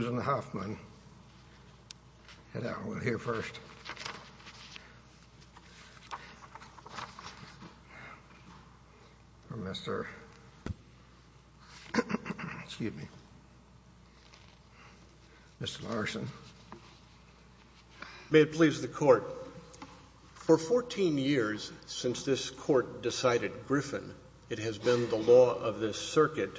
May it please the Court, for fourteen years since this Court decided Griffin, it has been the law of this circuit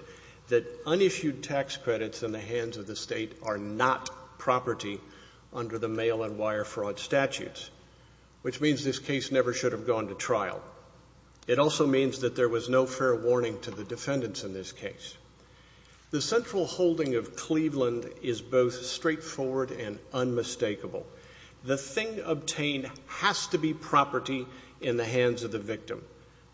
that unissued tax credits in the hands of the state are not property under the mail and wire fraud statutes, which means this case never should have gone to trial. It also means that there was no fair warning to the defendants in this case. The central holding of Cleveland is both straightforward and unmistakable. The thing obtained has to be property in the hands of the victim.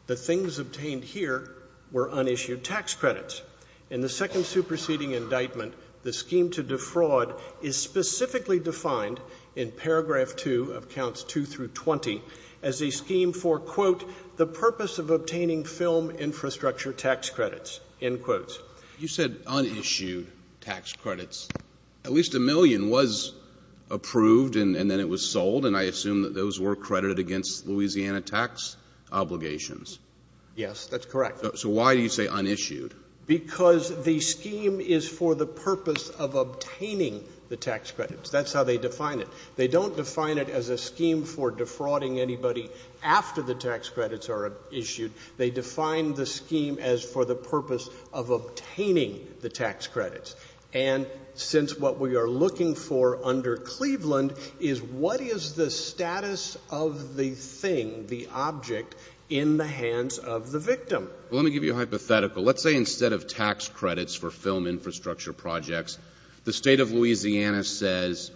The things obtained here were unissued tax credits. In the second superseding indictment, the scheme to defraud is specifically defined in paragraph two of counts two through twenty as a scheme for, quote, the purpose of obtaining film infrastructure tax credits, end quotes. You said unissued tax credits. At least a million was approved and then it was sold and I assume that those were credited against Louisiana tax obligations. Yes, that's correct. So why do you say unissued? Because the scheme is for the purpose of obtaining the tax credits. That's how they define it. They don't define it as a scheme for defrauding anybody after the tax credits are issued. They define the scheme as for the purpose of obtaining the tax credits. And since what we are looking for under Cleveland is what is the status of the thing, the object, in the hands of the victim? Well, let me give you a hypothetical. Let's say instead of tax credits for film infrastructure projects, the state of Louisiana says,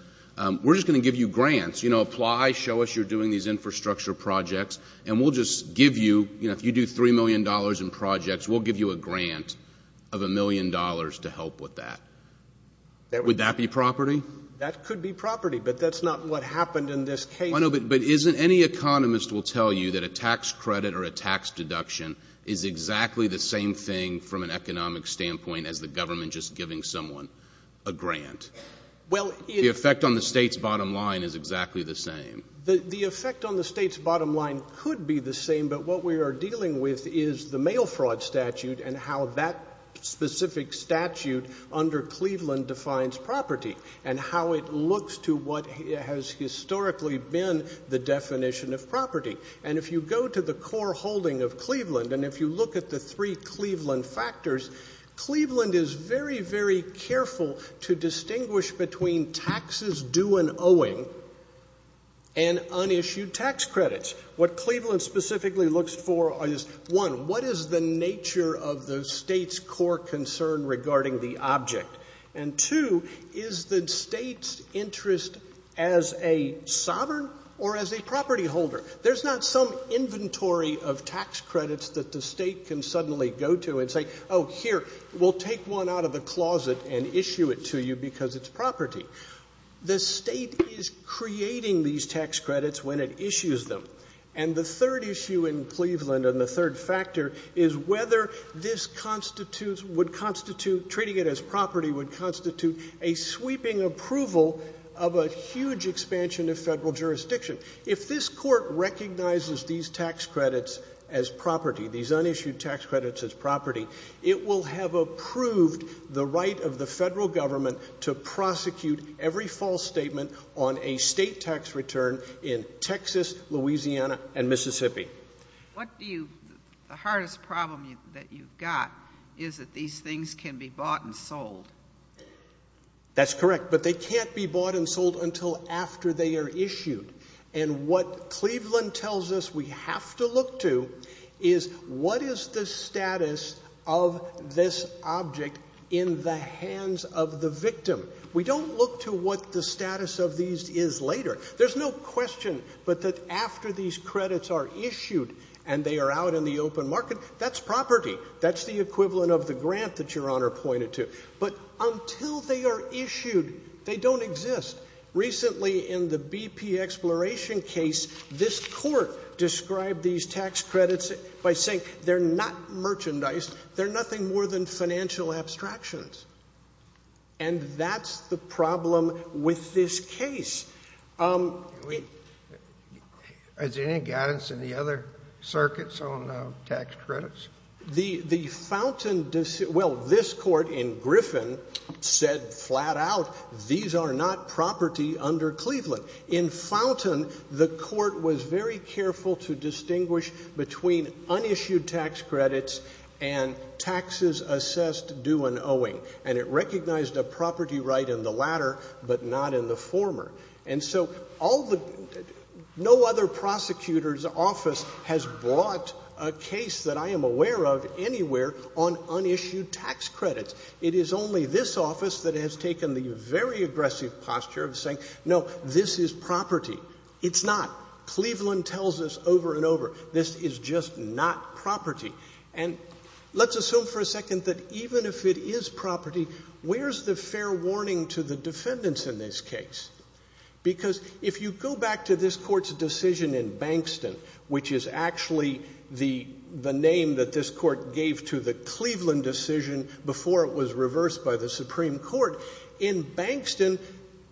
we're just going to give you grants. You know, apply, show us you're doing these infrastructure projects and we'll just give you, you know, if you do three million dollars in projects, we'll give you a grant of a million dollars to help with that. Would that be property? That could be property, but that's not what happened in this case. I know, but isn't, any economist will tell you that a tax credit or a tax deduction is exactly the same thing from an economic standpoint as the government just giving someone a grant? Well, it The effect on the state's bottom line is exactly the same. The effect on the state's bottom line could be the same, but what we are dealing with is the mail fraud statute and how that specific statute under Cleveland defines property and how it looks to what has historically been the definition of property. And if you go to the core holding of Cleveland and if you look at the three Cleveland factors, Cleveland is very, very careful to distinguish between taxes due and owing and unissued tax credits. What Cleveland specifically looks for is, one, what is the nature of the state's core concern regarding the object? And two, is the state's interest as a sovereign or as a property holder? There's not some inventory of tax credits that the state can suddenly go to and say, oh, here, we'll take one out of the closet and issue it to you because it's property. The state is creating these tax credits when it issues them. And the third issue in Cleveland and the third factor is whether this constitutes, would constitute, treating it as property would constitute a sweeping approval of a huge expansion of federal jurisdiction. If this court recognizes these tax credits as property, these unissued tax credits will allow the federal government to prosecute every false statement on a state tax return in Texas, Louisiana, and Mississippi. What do you, the hardest problem that you've got is that these things can be bought and sold. That's correct, but they can't be bought and sold until after they are issued. And what Cleveland tells us we have to look to is what is the status of this object in the hands of the victim. We don't look to what the status of these is later. There's no question but that after these credits are issued and they are out in the open market, that's property. That's the equivalent of the grant that Your Honor pointed to. But until they are issued, they don't exist. Recently in the BP Exploration case, this court described these tax credits by saying they're not merchandise, they're nothing more than financial abstractions. And that's the problem with this case. Has there been any guidance in the other circuits on tax credits? The fountain, well, this court in Griffin said flat out these are not property under between unissued tax credits and taxes assessed due and owing. And it recognized a property right in the latter but not in the former. And so all the, no other prosecutor's office has brought a case that I am aware of anywhere on unissued tax credits. It is only this office that has taken the very aggressive posture of saying no, this is property. It's not. Cleveland tells us over and over, this is just not property. And let's assume for a second that even if it is property, where's the fair warning to the defendants in this case? Because if you go back to this court's decision in Bankston, which is actually the name that this court gave to the Cleveland decision before it was reversed by the Supreme Court, in Bankston,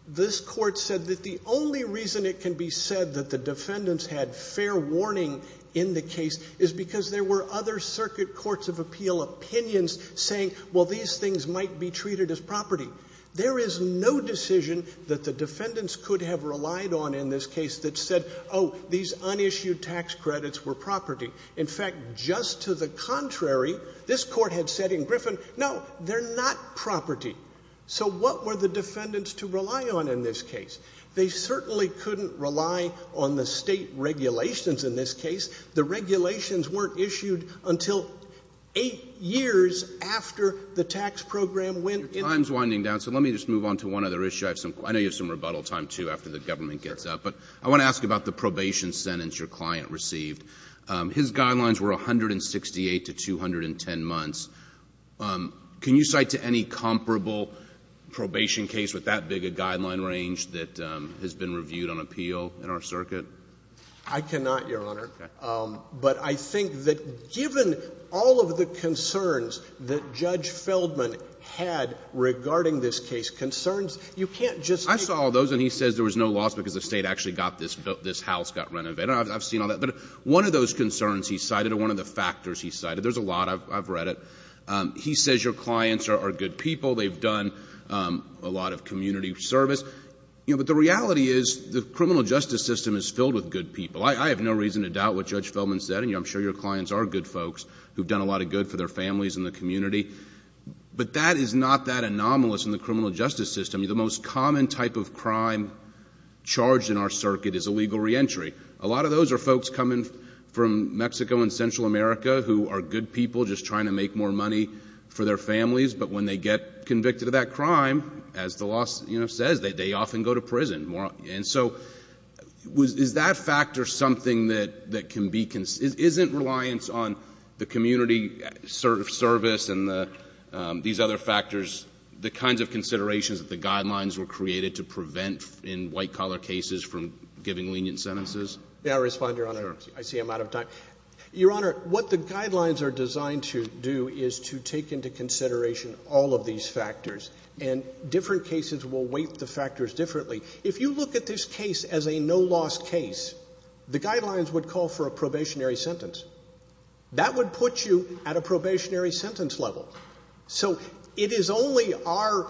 this court said that the only reason it can be said that the defendants had fair warning in the case is because there were other circuit courts of appeal opinions saying, well, these things might be treated as property. There is no decision that the defendants could have relied on in this case that said, oh, these unissued tax credits were property. In fact, just to the contrary, this court had said in Griffin, no, they're not property. So what were the defendants to rely on in this case? They certainly couldn't rely on the State regulations in this case. The regulations weren't issued until 8 years after the tax program went into effect. Roberts. Your time is winding down, so let me just move on to one other issue. I know you have some rebuttal time, too, after the government gets up. But I want to ask you about the probation sentence your client received. His guidelines were 168 to 210 months. Can you cite to any comparable probation case with that big a guideline range that has been reviewed on appeal in our circuit? I cannot, Your Honor. Okay. But I think that given all of the concerns that Judge Feldman had regarding this case, concerns you can't just take one. I saw all those, and he says there was no loss because the State actually got this house, got renovated. I've seen all that. But one of those concerns he cited or one of the factors he cited, there's a lot. I've read it. He says your clients are good people. They've done a lot of community service. But the reality is the criminal justice system is filled with good people. I have no reason to doubt what Judge Feldman said, and I'm sure your clients are good folks who've done a lot of good for their families and the community. But that is not that anomalous in the criminal justice system. The most common type of crime charged in our circuit is illegal free entry. A lot of those are folks coming from Mexico and Central America who are good people just trying to make more money for their families. But when they get convicted of that crime, as the law says, they often go to prison. And so is that fact or something that can be... isn't reliance on the community service and these other factors the kinds of considerations that the guidelines were giving lenient sentences? May I respond, Your Honor? Sure. I see I'm out of time. Your Honor, what the guidelines are designed to do is to take into consideration all of these factors. And different cases will weight the factors differently. If you look at this case as a no-loss case, the guidelines would call for a probationary sentence. That would put you at a probationary sentence level. So it is only our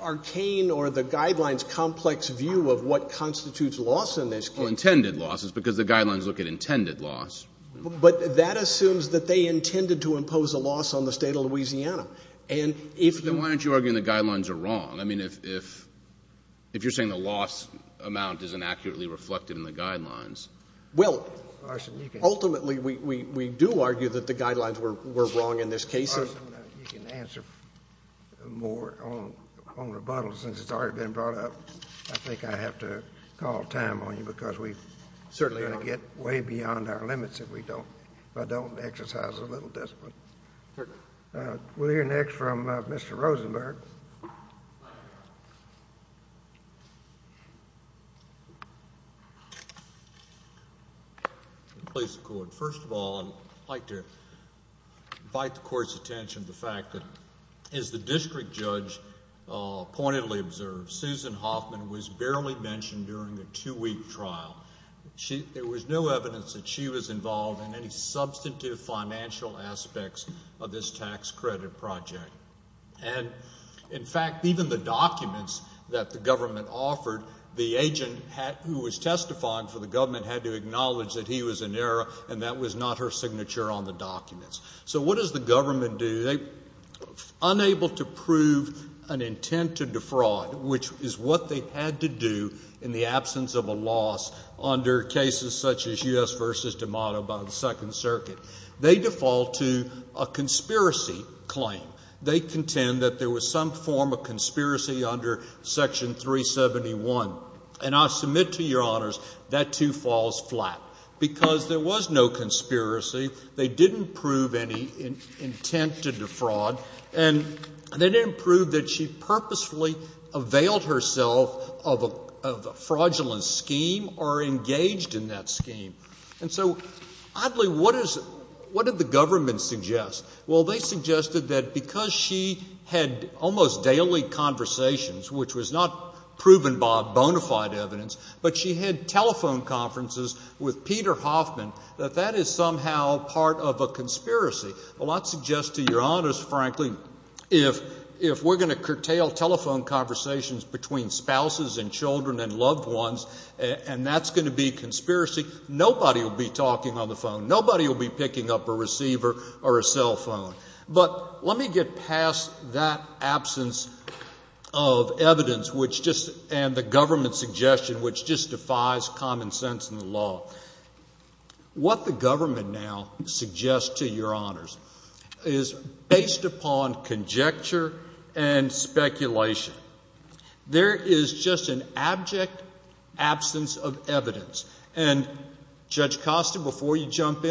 arcane or the guidelines' complex view of what constitutes loss in this case... Well, intended loss is because the guidelines look at intended loss. But that assumes that they intended to impose a loss on the state of Louisiana. And if you... Then why aren't you arguing the guidelines are wrong? I mean, if you're saying the loss amount isn't accurately reflected in the guidelines... Well, ultimately, we do argue that the guidelines were wrong in this case. You can answer more on rebuttals since it's already been brought up. I think I have to call time on you because we're going to get way beyond our limits if we don't exercise a little discipline. We'll hear next from Mr. Rosenberg. Please record. First of all, I'd like to invite the court's attention to the fact that, as the district judge pointedly observed, Susan Hoffman was barely mentioned during a two-week trial. There was no evidence that she was involved in any In fact, even the documents that the government offered, the agent who was testifying for the government had to acknowledge that he was in error and that was not her signature on the documents. So what does the government do? Unable to prove an intent to defraud, which is what they had to do in the absence of a loss under cases such as U.S. v. DiMato by the Second Circuit, they default to a conspiracy claim. They contend that there was some form of conspiracy under Section 371. And I submit to your honors that too falls flat. Because there was no conspiracy, they didn't prove any intent to defraud, and they didn't prove that she purposefully availed herself of a fraudulent scheme or engaged in that scheme. And so, oddly, what did the government suggest? Well, they suggested that because she had almost daily conversations, which was not proven by bona fide evidence, but she had telephone conferences with Peter Hoffman, that that is somehow part of a conspiracy. Well, I'd suggest to your honors, frankly, if we're going to curtail telephone conversations between spouses and children and loved ones, and that's going to be a conspiracy, nobody will be talking on the phone. Nobody will be passing that absence of evidence and the government's suggestion, which just defies common sense in the law. What the government now suggests to your honors is based upon conjecture and speculation. There is just an abject absence of evidence. And Judge Costa, before we hear from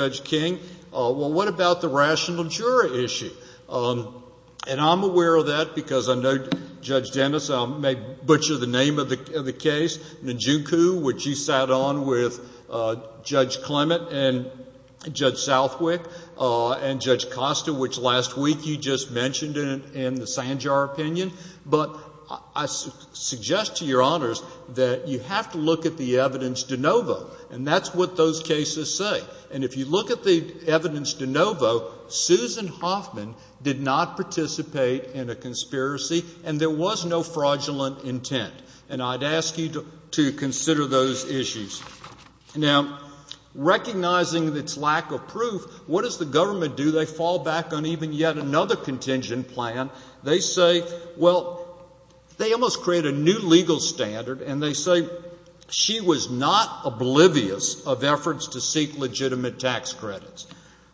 Judge King, well, what about the rational juror issue? And I'm aware of that because I know Judge Dennis may butcher the name of the case, Najuku, which you sat on with Judge Clement and Judge Southwick, and Judge Costa, which last week you just mentioned in the Sanjar opinion. But I suggest to your honors that you have to look at the evidence de novo, and that's what those cases say. And if you look at the evidence de novo, Susan Hoffman did not participate in a conspiracy, and there was no fraudulent intent. And I'd ask you to consider those issues. Now, recognizing its lack of proof, what does the government do? They fall back on even yet another contingent plan. They say, well, they almost create a new legal standard, and they say she was not oblivious of efforts to seek legitimate tax credits.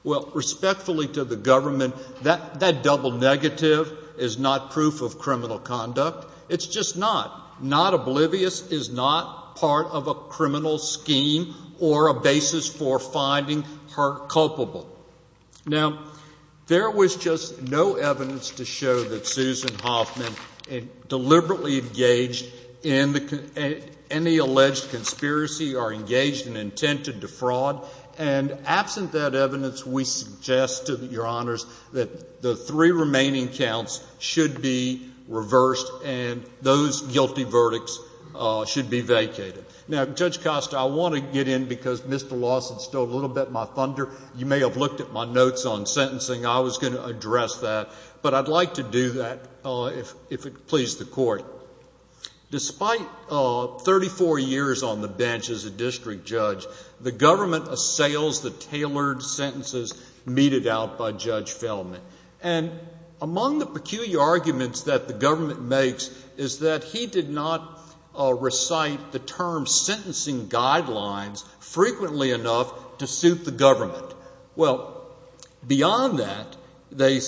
Well, respectfully to the government, that double negative is not proof of criminal conduct. It's just not. Not oblivious is not part of a criminal scheme or a basis for finding her culpable. Now, there was just no evidence to show that Susan Hoffman deliberately engaged in any alleged conspiracy or engaged in intent to defraud. And absent that evidence, we suggest to your honors that the three remaining counts should be reversed, and those guilty verdicts should be vacated. Now, Judge Costa, I want to get in because Mr. Lawson stole a little bit of my time. I looked at my notes on sentencing. I was going to address that. But I'd like to do that if it pleases the court. Despite 34 years on the bench as a district judge, the government assails the tailored sentences meted out by Judge Feldman. And among the peculiar arguments that the government makes is that he did not recite the term sentencing guidelines frequently enough to suit the government. Well, beyond that, they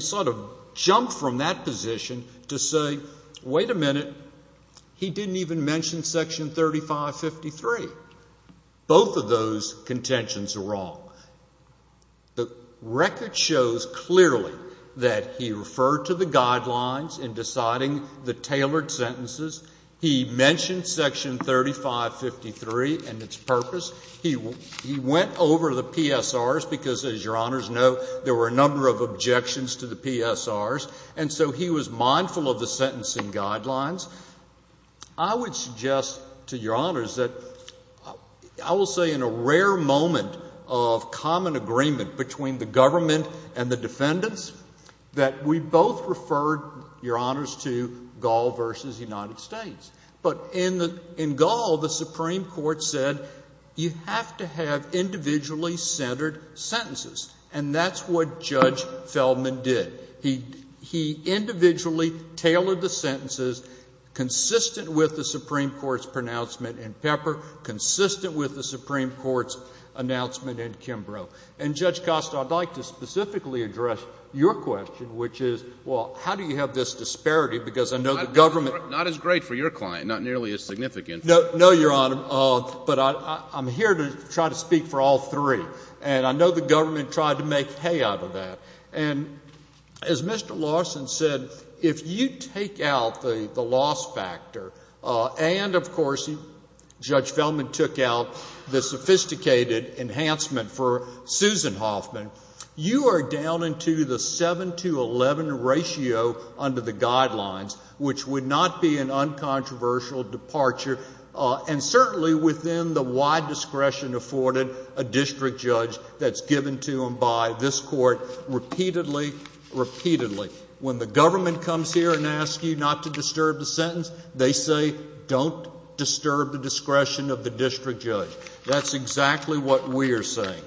sort of jumped from that position to say, wait a minute, he didn't even mention Section 3553. Both of those contentions are wrong. The record shows clearly that he referred to the guidelines in deciding the tailored sentences. He mentioned Section 3553, and its purpose. He went over the PSRs because, as your honors know, there were a number of objections to the PSRs. And so he was mindful of the sentencing guidelines. I would suggest to your honors that I will say in a rare moment of common agreement between the government and the defendants that we both referred, your honors, to Gall v. United States. But in Gall, the Supreme Court said you have to have individually centered sentences. And that's what Judge Feldman did. He individually tailored the sentences consistent with the Supreme Court's pronouncement in Pepper, consistent with the Supreme Court's announcement in Kimbrough. And, Judge Costa, I'd like to specifically address your question, which is, well, how do you have this disparity? Because I know the government Not as great for your client, not nearly as significant. No, your honor. But I'm here to try to speak for all three. And I know the government tried to make hay out of that. And as Mr. Lawson said, if you take out the loss factor, and, of course, Judge Feldman took out the sophisticated enhancement for Susan Hoffman, you are down into the 7 to 11 ratio under the guidelines, which would not be an uncontroversial departure, and certainly within the wide discretion afforded a district judge that's given to him by this court repeatedly, repeatedly. When the government comes here and asks you not to disturb the sentence, they say, don't disturb the discretion of the district judge. That's exactly what we are saying.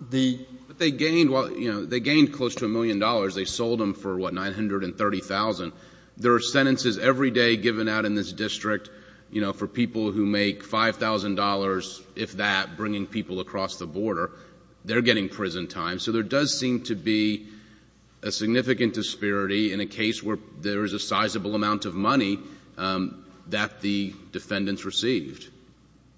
But they gained close to $1 million. They sold them for, what, $930,000. There are sentences every day given out in this district for people who make $5,000, if that, bringing people across the border. They're getting prison time. So there does seem to be a significant disparity in a case where there is a sizable amount of money that the defendants received.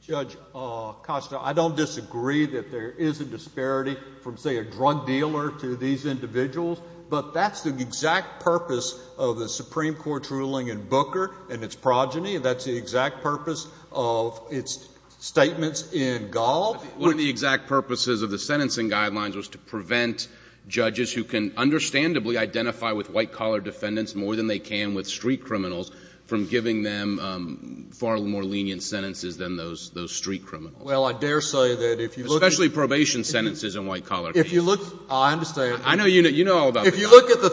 Judge Costa, I don't disagree that there is a disparity from, say, a drug dealer to these individuals, but that's the exact purpose of the Supreme Court's ruling in Booker and its progeny. That's the exact purpose of its statements in Gall. One of the exact purposes of the sentencing guidelines was to prevent judges who can understandably identify with white-collar defendants more than they can with street criminals, from giving them far more lenient sentences than those street criminals. Well, I dare say that if you look at the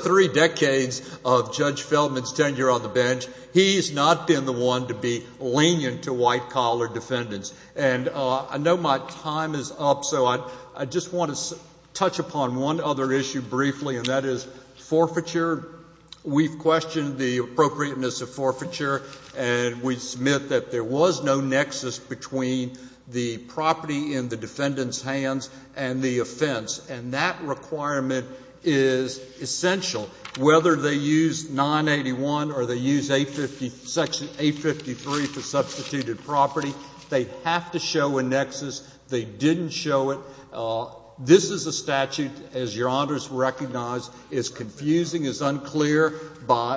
three decades of Judge Feldman's tenure on the bench, he's not been the one to be lenient to white-collar defendants. And I know my time is up, so I just want to touch upon one other issue briefly, and that is forfeiture. We've questioned the appropriateness of forfeiture, and we submit that there was no nexus between the property in the defendant's hands and the offense, and that requirement is essential. Whether they use 981 or they use Section 853 for substituted property, they have to show a nexus. They didn't show it. This is a statute, as Your Honors recognize, is confusing, is unclear,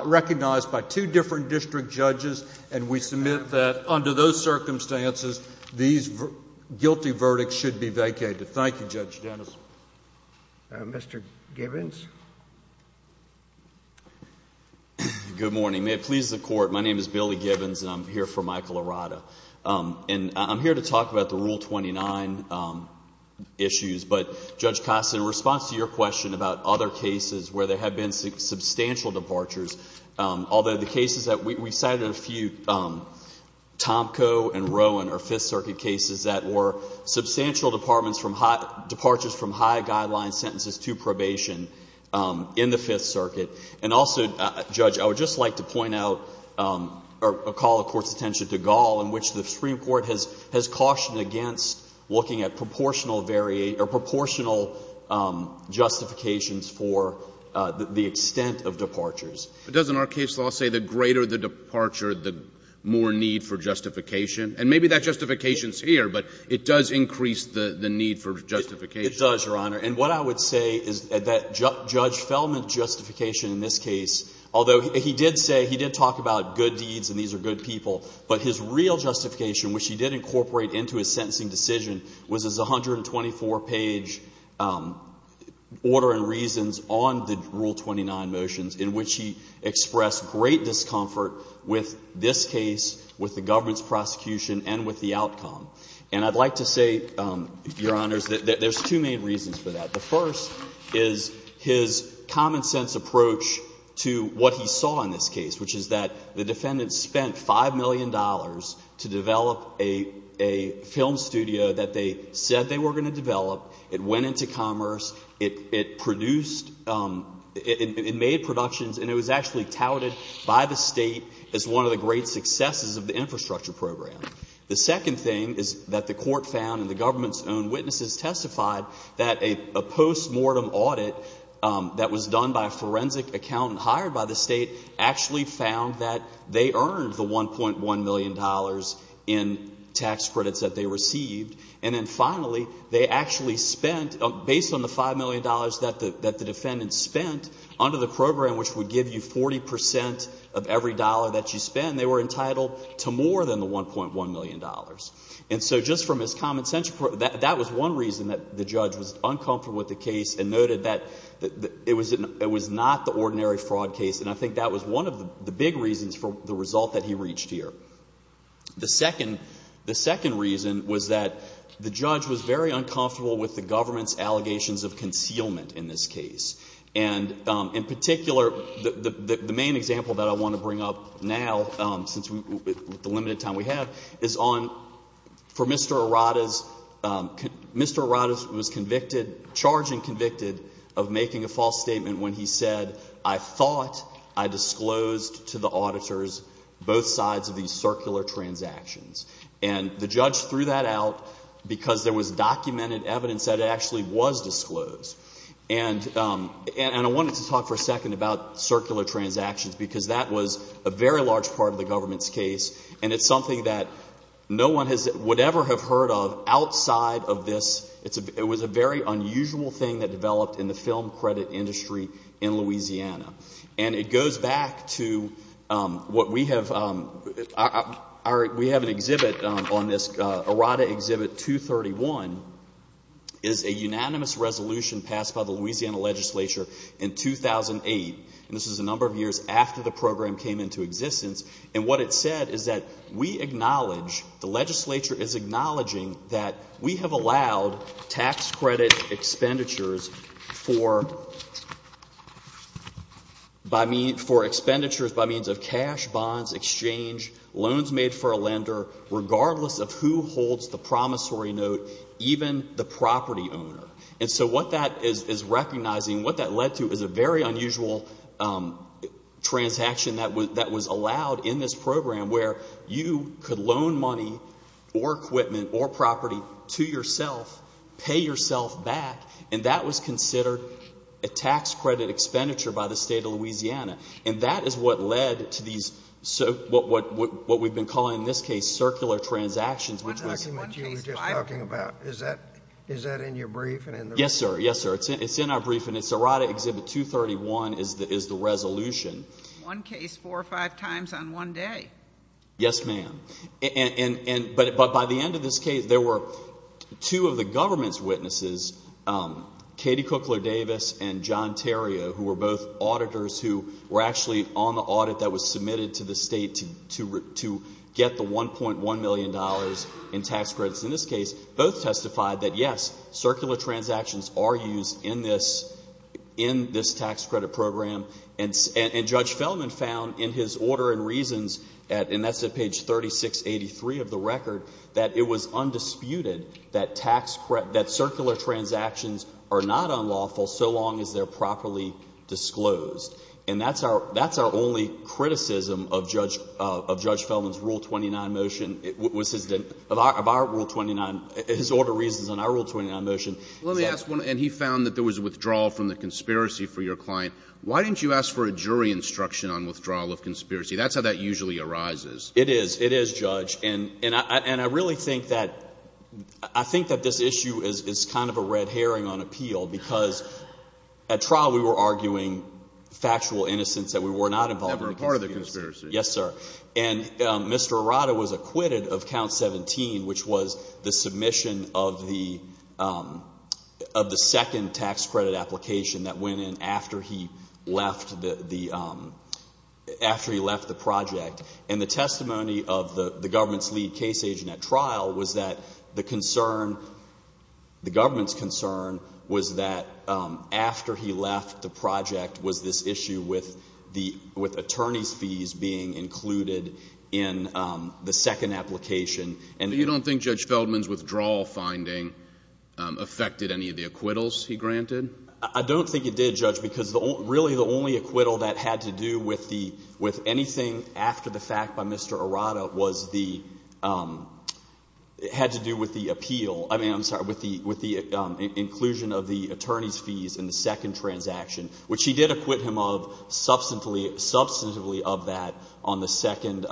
recognized by two different district judges, and we submit that under those circumstances these guilty verdicts should be vacated. Thank you, Judge Dennis. Mr. Gibbons? Good morning. May it please the Court, my name is Billy Gibbons, and I'm here for Michael Arata. And I'm here to talk about the Rule 29 issues, but Judge Kostin, in response to your question about other cases where there have been substantial departures, although the cases that we cited in a few, Tomko and Rowan are Fifth Circuit cases that were substantial departures from high guideline sentences to probation in the Fifth Circuit. And also, Judge, I would just like to point out or call the Court's attention to Gall, in which the Supreme Court has cautioned against looking at proportional justifications for the extent of departures. But doesn't our case law say the greater the departure, the more need for justification? And maybe that justification is here, but it does increase the need for justification. It does, Your Honor. And what I would say is that Judge Fellman's justification in this case, although he did say, he did talk about good deeds and these are good people, but his real justification, which he did incorporate into his sentencing decision, was his 124-page order and reasons on the Rule 29 motions, in which he expressed great discomfort with this case, with the government's prosecution, and with the outcome. And I'd like to say, Your Honors, that there's two main reasons for that. The first is his common-sense approach to what he saw in this case, which is that the defendant spent $5 million to develop a film studio that they said they were going to develop. It went into commerce. It produced, it made productions, and it was actually touted by the State as one of the great successes of the infrastructure program. The second thing is that the Court found and the government's own witnesses testified that a post-mortem audit that was done by a forensic accountant hired by the State actually found that they earned the $1.1 million in tax credits that they received. And then finally, they actually spent, based on the $5 million that the defendant spent under the program, which would give you 40% of every dollar that you spend, they were entitled to more than the $1.1 million. And so just from his common-sense approach, that was one reason that the judge was uncomfortable with the case and noted that it was not the ordinary fraud case. And I think that was one of the big reasons for the result that he reached here. The second reason was that the judge was very uncomfortable with the government's allegations of concealment in this case. And in particular, the main example that I want to bring up now, since the limited time we have, is on, for Mr. Arata's, Mr. Arata was convicted, charged and convicted of making a false statement when he said, I thought I disclosed to the auditors both sides of these circular transactions. And the judge threw that out because there was documented evidence that it actually was disclosed. And I wanted to talk for a second about circular transactions, because that was a very large part of the government's case, and it's something that no one would ever have heard of outside of this. It was a very unusual thing that developed in the film credit industry in Louisiana. And it goes back to what we have, we have an exhibit on this, Arata Exhibit 231, is a unanimous resolution passed by the Louisiana legislature in 2008. And this is a number of years after the program came into existence. And what it said is that we acknowledge, the legislature is acknowledging that we have allowed tax credit expenditures for, by means, for expenditures by means of cash, bonds, exchange, loans made for a lender, regardless of who holds the promissory note, even the property owner. And so what that is recognizing, what that led to is a very unusual transaction that was allowed in this program where you could loan money or equipment or property to yourself, pay yourself back, and that was considered a tax credit expenditure by the state of Louisiana. And that is what led to these, what we've been calling in this case, circular transactions, which was One case I'm talking about, is that in your brief? Yes, sir. Yes, sir. It's in our brief, and it's Arata Exhibit 231 is the resolution. One case, four or five times on one day. Yes, ma'am. And, but by the end of this case, there were two of the government's witnesses, Katie Cookler Davis and John Terrio, who were both auditors who were actually on the audit that was submitted to the state to get the $1.1 million in tax credits. In this case, both testified that, yes, circular transactions are used in this tax credit program. And Judge Fellman found in his order and reasons, and that's at page 3683 of the record, that it was undisputed that circular transactions are not unlawful so long as they're properly disclosed. And that's our only criticism of Judge Fellman's Rule 29 motion. Of our Rule 29, his order, reasons, and our Rule 29 motion. Let me ask one. And he found that there was a withdrawal from the conspiracy for your client. Why didn't you ask for a jury instruction on withdrawal of conspiracy? That's how that usually arises. It is. It is, Judge. And I really think that this issue is kind of a red herring on appeal because at trial we were arguing factual innocence that we were not involved in the conspiracy. Never a part of the conspiracy. Yes, sir. And Mr. Arata was acquitted of Count 17, which was the submission of the second tax credit application that went in after he left the project. And the testimony of the government's lead case agent at trial was that the concern, the government's concern, was that after he left the project was this issue with attorneys' fees being included in the second application. But you don't think Judge Fellman's withdrawal finding affected any of the acquittals he granted? I don't think it did, Judge, because really the only acquittal that had to do with anything after the fact by Mr. Arata was the, had to do with the appeal, I mean, I'm sorry, with the inclusion of the attorneys' fees in the second transaction, which he did acquit him of substantively of that on the second,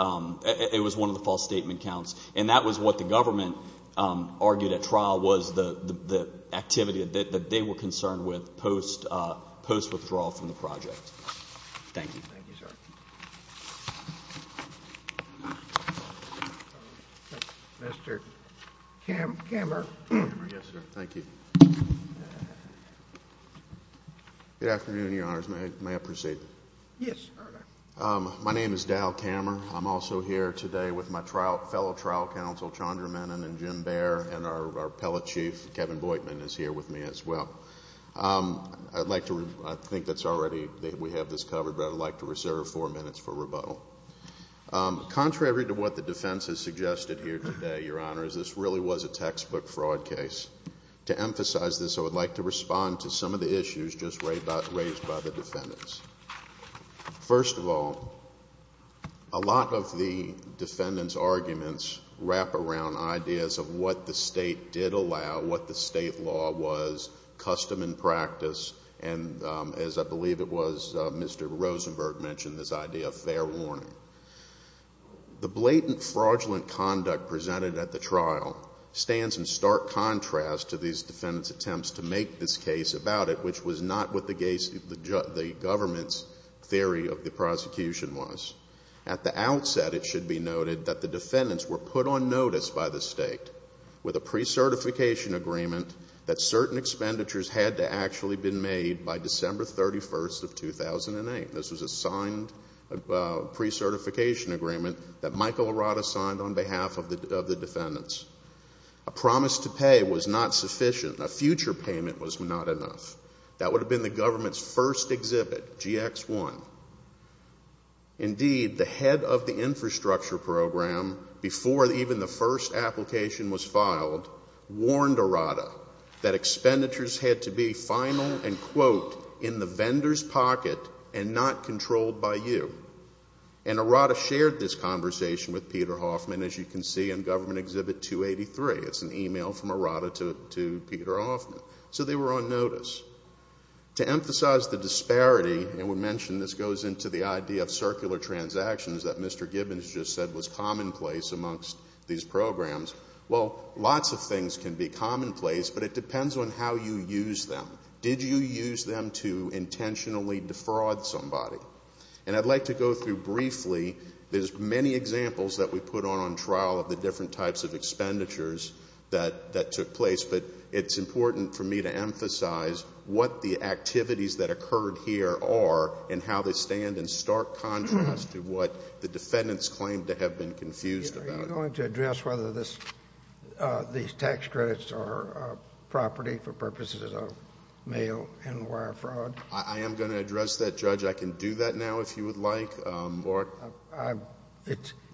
it was one of the false statement counts. And that was what the government argued at trial was the activity that they were concerned with post-withdrawal from the project. Thank you. Thank you, sir. Mr. Kammer. Kammer, yes, sir. Thank you. Good afternoon, Your Honors. May I proceed? Yes, Your Honor. My name is Dal Kammer. I'm also here today with my fellow trial counsel, Chandra Menon and Jim Baer, and our appellate chief, Kevin Boitman, is here with me as well. I'd like to, I think that's already, we have this covered, but I'd like to reserve four minutes for rebuttal. Contrary to what the defense has suggested here today, Your Honors, this really was a textbook fraud case. To emphasize this, I would like to respond to some of the issues just raised by the defendants. First of all, a lot of the defendants' arguments wrap around ideas of what the state law was, custom and practice, and as I believe it was Mr. Rosenberg mentioned, this idea of fair warning. The blatant fraudulent conduct presented at the trial stands in stark contrast to these defendants' attempts to make this case about it, which was not what the government's theory of the prosecution was. At the outset, it should be noted that the defendants were put on notice by the state with a precertification agreement that certain expenditures had to actually been made by December 31st of 2008. This was a signed precertification agreement that Michael Arata signed on behalf of the defendants. A promise to pay was not sufficient. A future payment was not enough. That would have been the government's first exhibit, GX1. Indeed, the head of the infrastructure program, before even the first application was filed, warned Arata that expenditures had to be final and quote, in the vendor's pocket and not controlled by you. And Arata shared this conversation with Peter Hoffman, as you can see in Government Exhibit 283. It's an email from Arata to Peter Hoffman. So they were on notice. To emphasize the disparity, and we mentioned this goes into the idea of circular transactions that Mr. Gibbons just said was commonplace amongst these programs, well, lots of things can be commonplace, but it depends on how you use them. Did you use them to intentionally defraud somebody? And I'd like to go through briefly, there's many examples that we put on trial of the different types of expenditures that took place, but it's important for me to emphasize what the activities that occurred here are and how they stand in stark contrast to what the defendants claimed to have been confused about. Are you going to address whether these tax credits are property for purposes of mail and wire fraud? I am going to address that, Judge. I can do that now if you would like.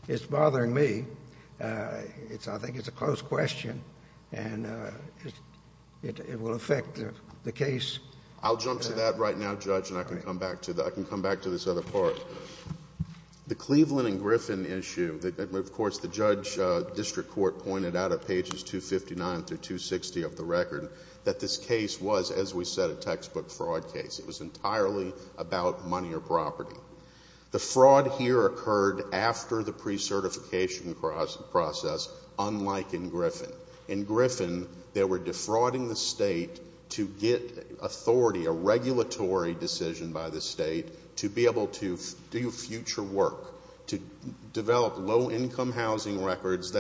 It's bothering me. I think it's a close question and it will affect the case. I'll jump to that right now, Judge, and I can come back to this other part. The Cleveland and Griffin issue, of course, the judge district court pointed out at pages 259 through 260 of the record that this case was, as we said, a textbook fraud case. It was entirely about money or property. The fraud here occurred after the pre-certification process, unlike in Griffin. In Griffin, they were defrauding the state to get authority, a regulatory decision by the state, to be able to do future work, to develop low-income housing records,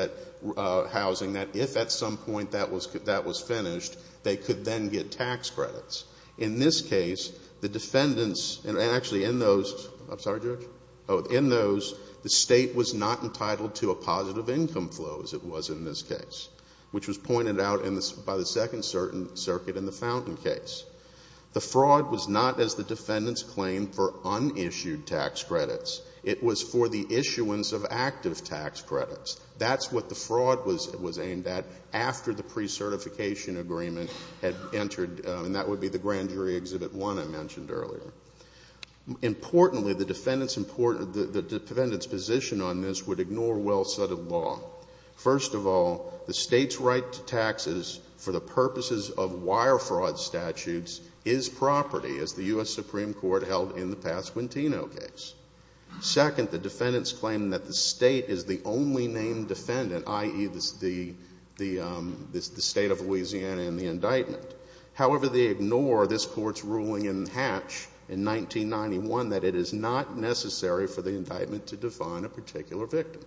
housing that if at some point that was finished, they could then get tax credits. In this case, the defendants, and actually in those, the state was not entitled to a positive income flow as it was in this case, which was pointed out by the Second Circuit in the Fountain case. The fraud was not as the defendants claimed for unissued tax credits. It was for the issuance of active tax credits. That's what the fraud was aimed at after the pre-certification agreement had entered, and that would be the Grand Jury Exhibit One I mentioned earlier. Importantly, the defendant's position on this would ignore well-studded law. First of all, the state's right to taxes for the purposes of wire fraud statutes is property, as the U.S. Supreme Court held in the Pasquantino case. Second, the defendants claim that the state is the only named defendant, i.e., the state of Louisiana in the indictment. However, they ignore this court's ruling in Hatch in 1991 that it is not necessary for the indictment to define a particular victim.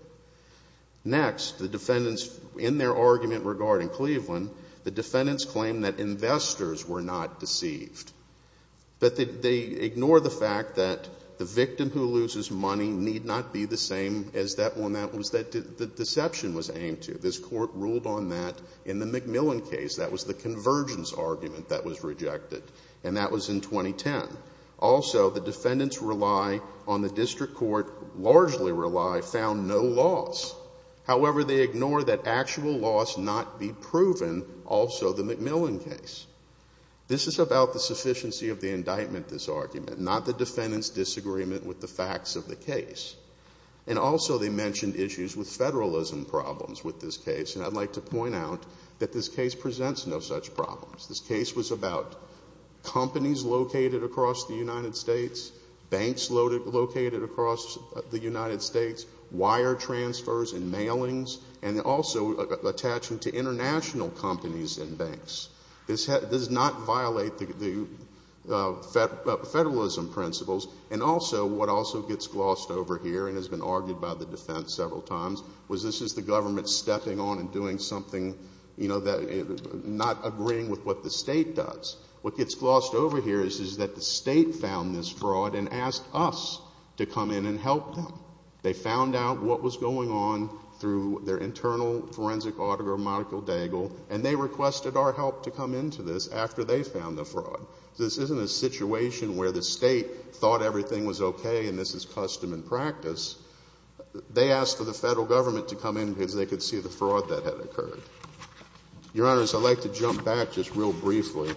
Next, the defendants, in their argument regarding Cleveland, the defendants claim that investors were not deceived. But they ignore the fact that the victim who loses money need not be the same as that one that the deception was aimed to. This court ruled on that in the McMillan case. That was the convergence argument that was rejected, and that was in 2010. Also, the defendants rely on the district court, largely rely, found no loss. However, they ignore that actual loss not be proven, also the McMillan case. This is about the sufficiency of the indictment, this argument, not the defendants' disagreement with the facts of the case. And also they mentioned issues with federalism problems with this case. And I'd like to point out that this case presents no such problems. This case was about companies located across the United States, banks located across the United States, wire transfers and mailings, and also attaching to international companies and banks. This does not violate the federalism principles. And also, what also gets glossed over here and has been argued by the defense several times was this is the government stepping on and doing something, you know, not agreeing with what the state does. What gets glossed over here is that the state found this fraud and asked us to come in and help them. They found out what was going on through their internal forensic autogram, Michael Daigle, and they requested our help to come into this after they found the fraud. This isn't a situation where the state thought everything was okay and this is custom and practice. They asked for the federal government to come in because they could see the fraud that had occurred. Your Honors, I'd like to jump back just real briefly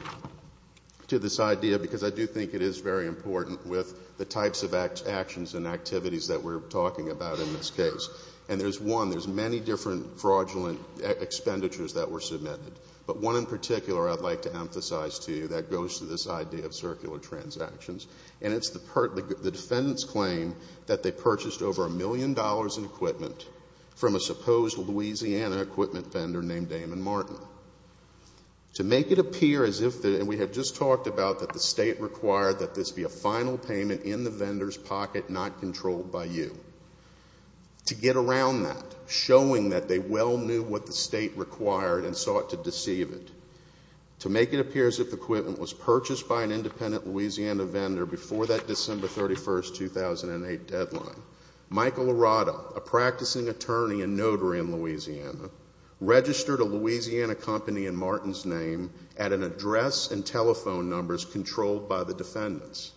to this idea because I do think it is very important with the types of actions and activities that we're talking about in this case. And there's one, there's many different fraudulent expenditures that were submitted. But one in particular I'd like to emphasize to you that goes to this idea of circular transactions. And it's the defendant's claim that they purchased over a million dollars in equipment from a supposed Louisiana equipment vendor named Damon Martin. To make it appear as if, and we have just talked about that the state required that this be a final payment in the vendor's pocket, not controlled by you. To get around that, showing that they well knew what the state required and sought to deceive it. To make it appear as if the equipment was purchased by an independent Louisiana vendor before that December 31, 2008 deadline, Michael Arado, a practicing attorney and notary in Louisiana, registered a Louisiana company in Martin's name at an address and telephone numbers controlled by the defendants.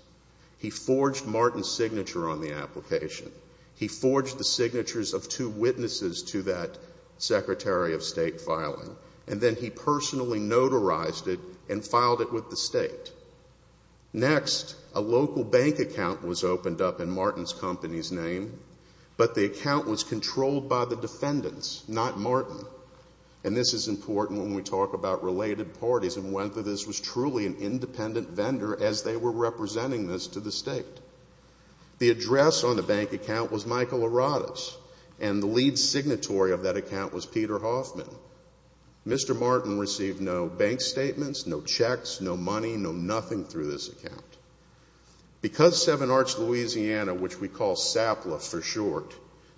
He forged Martin's signature on the application. He forged the signatures of two witnesses to that Secretary of State filing, and then he personally notarized it and filed it with the state. Next, a local bank account was opened up in Martin's company's name, but the account was controlled by the defendants, not Martin. And this is important when we talk about related parties and whether this was truly an independent vendor as they were representing this to the state. The address on the bank account was Michael Arado's, and the lead signatory of that account was Peter Hoffman. Mr. Martin received no bank statements, no checks, no money, no nothing through this account. Because Seven Arch, Louisiana, which we call SAPLA for short,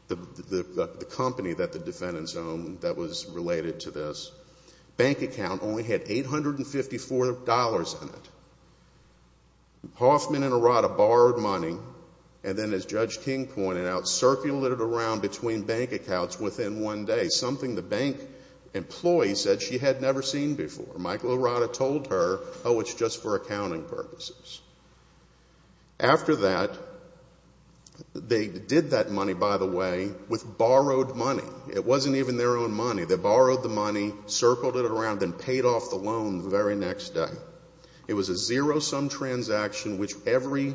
the company that the defendants owned that was related to this, bank account only had $854 in it. Hoffman and Arado borrowed money and then, as Judge King pointed out, circled it around between bank accounts within one day, something the bank employee said she had never seen before. Michael Arado told her, oh, it's just for accounting purposes. After that, they did that money, by the way, with borrowed money. It wasn't even their own money. They borrowed the money, circled it around, then paid off the loan the very next day. It was a zero-sum transaction which every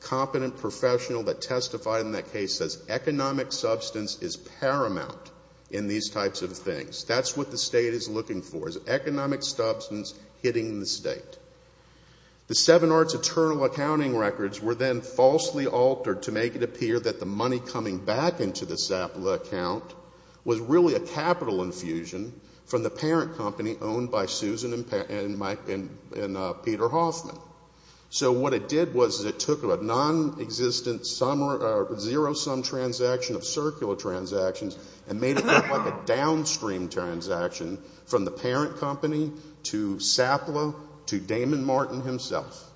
competent professional that understands economic substance is paramount in these types of things. That's what the state is looking for is economic substance hitting the state. The Seven Arch internal accounting records were then falsely altered to make it appear that the money coming back into the SAPLA account was really a capital infusion from the parent company owned by Susan and Peter Hoffman. So what it did was it took a non-existent zero-sum transaction of circular transactions and made it look like a downstream transaction from the parent company to SAPLA to Damon Martin himself.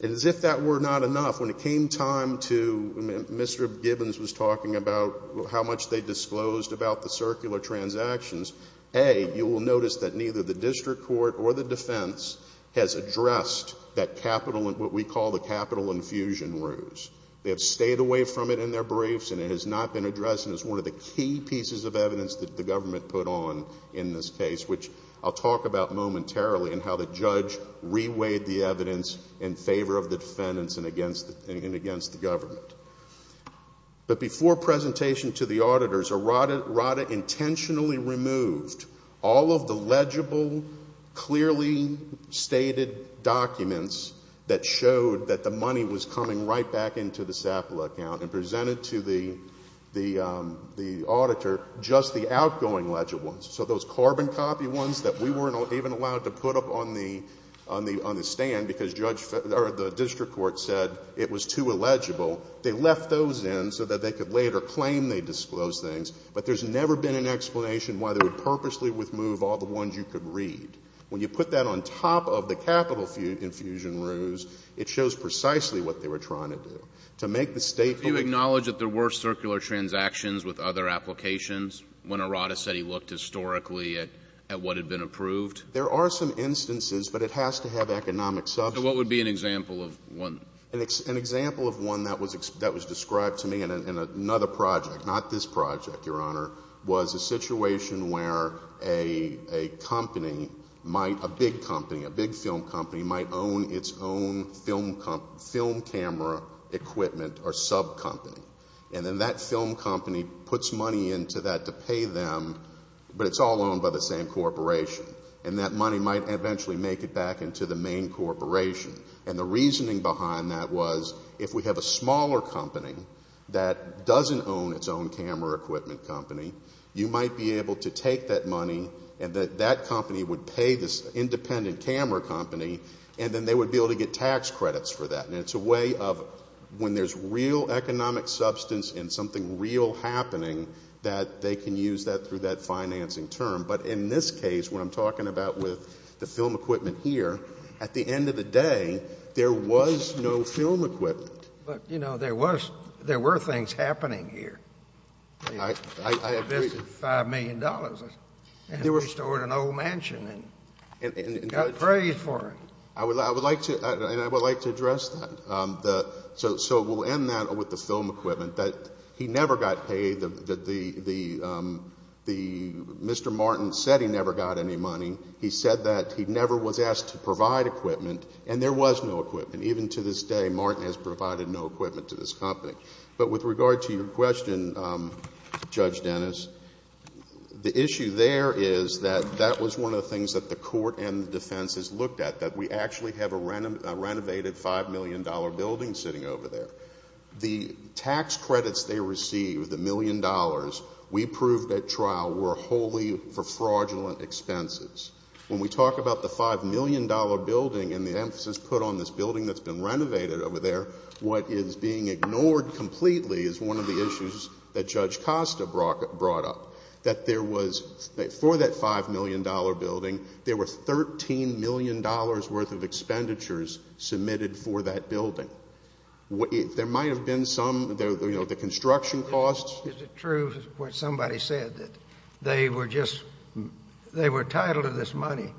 And as if that were not enough, when it came time to Mr. Gibbons was talking about how much they disclosed about the circular transactions, A, you will notice that neither the district court or the defense has addressed what we call the capital infusion ruse. They have stayed away from it in their briefs and it has not been addressed and is one of the key pieces of evidence that the government put on in this case, which I'll talk about momentarily, and how the judge reweighed the evidence in favor of the defendants and against the government. But before presentation to the auditors, RADA intentionally removed all of the legible, clearly stated documents that showed that the money was coming right back into the SAPLA account and presented to the auditor just the outgoing legible ones. So those carbon copy ones that we weren't even allowed to put up on the stand because the district court said it was too illegible, they left those in so that they could later claim they disclosed things, but there's never been an explanation why they would purposely remove all the ones you could read. When you put that on top of the capital infusion ruse, it shows precisely what they were trying to do. To make the statement — Can you acknowledge that there were circular transactions with other applications when a RADA said he looked historically at what had been approved? There are some instances, but it has to have economic substance. So what would be an example of one? An example of one that was described to me in another project, not this project, Your Honor, was a situation where a company, a big company, a big film company might own its own film camera equipment or subcompany. And then that film company puts money into that to pay them, but it's all owned by the same corporation. And that money might eventually make it back into the main corporation. And the reasoning behind that was if we have a smaller company that doesn't own its own camera equipment company, you might be able to take that money and that company would pay this independent camera company, and then they would be able to get tax credits for that. And it's a way of when there's real economic substance and something real happening that they can use that through that financing term. But in this case, what I'm talking about with the film equipment here, at the end of the day, there was no film equipment. But, you know, there were things happening here. I agree. $5 million and they restored an old mansion and got praised for it. And I would like to address that. So we'll end that with the film equipment. He never got paid. Mr. Martin said he never got any money. He said that he never was asked to provide equipment. And there was no equipment. Even to this day, Martin has provided no equipment to this company. But with regard to your question, Judge Dennis, the issue there is that that was one of the things that the court and the defense has looked at, that we actually have a renovated $5 million building sitting over there. The tax credits they received, the million dollars, we proved at trial were wholly for fraudulent expenses. When we talk about the $5 million building and the emphasis put on this building that's been renovated over there, what is being ignored completely is one of the issues that Judge Costa brought up, that there was, for that $5 million building, there were $13 million worth of expenditures submitted for that building. There might have been some, you know, the construction costs. Is it true what somebody said, that they were just, they were entitled to this money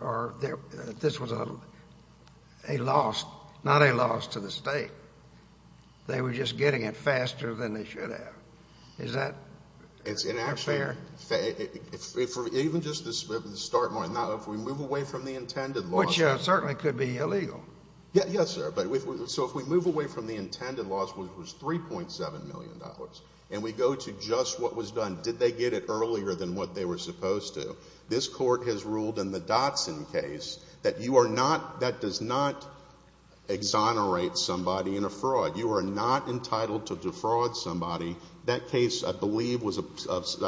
or this was a loss, not a loss to the state? They were just getting it faster than they should have. Is that fair? Even just the start, if we move away from the intended loss. Which certainly could be illegal. Yes, sir. So if we move away from the intended loss, which was $3.7 million, and we go to just what was done, did they get it earlier than what they were supposed to, this court has ruled in the Dotson case that you are not, that does not exonerate somebody in a fraud. You are not entitled to defraud somebody. That case I believe was, if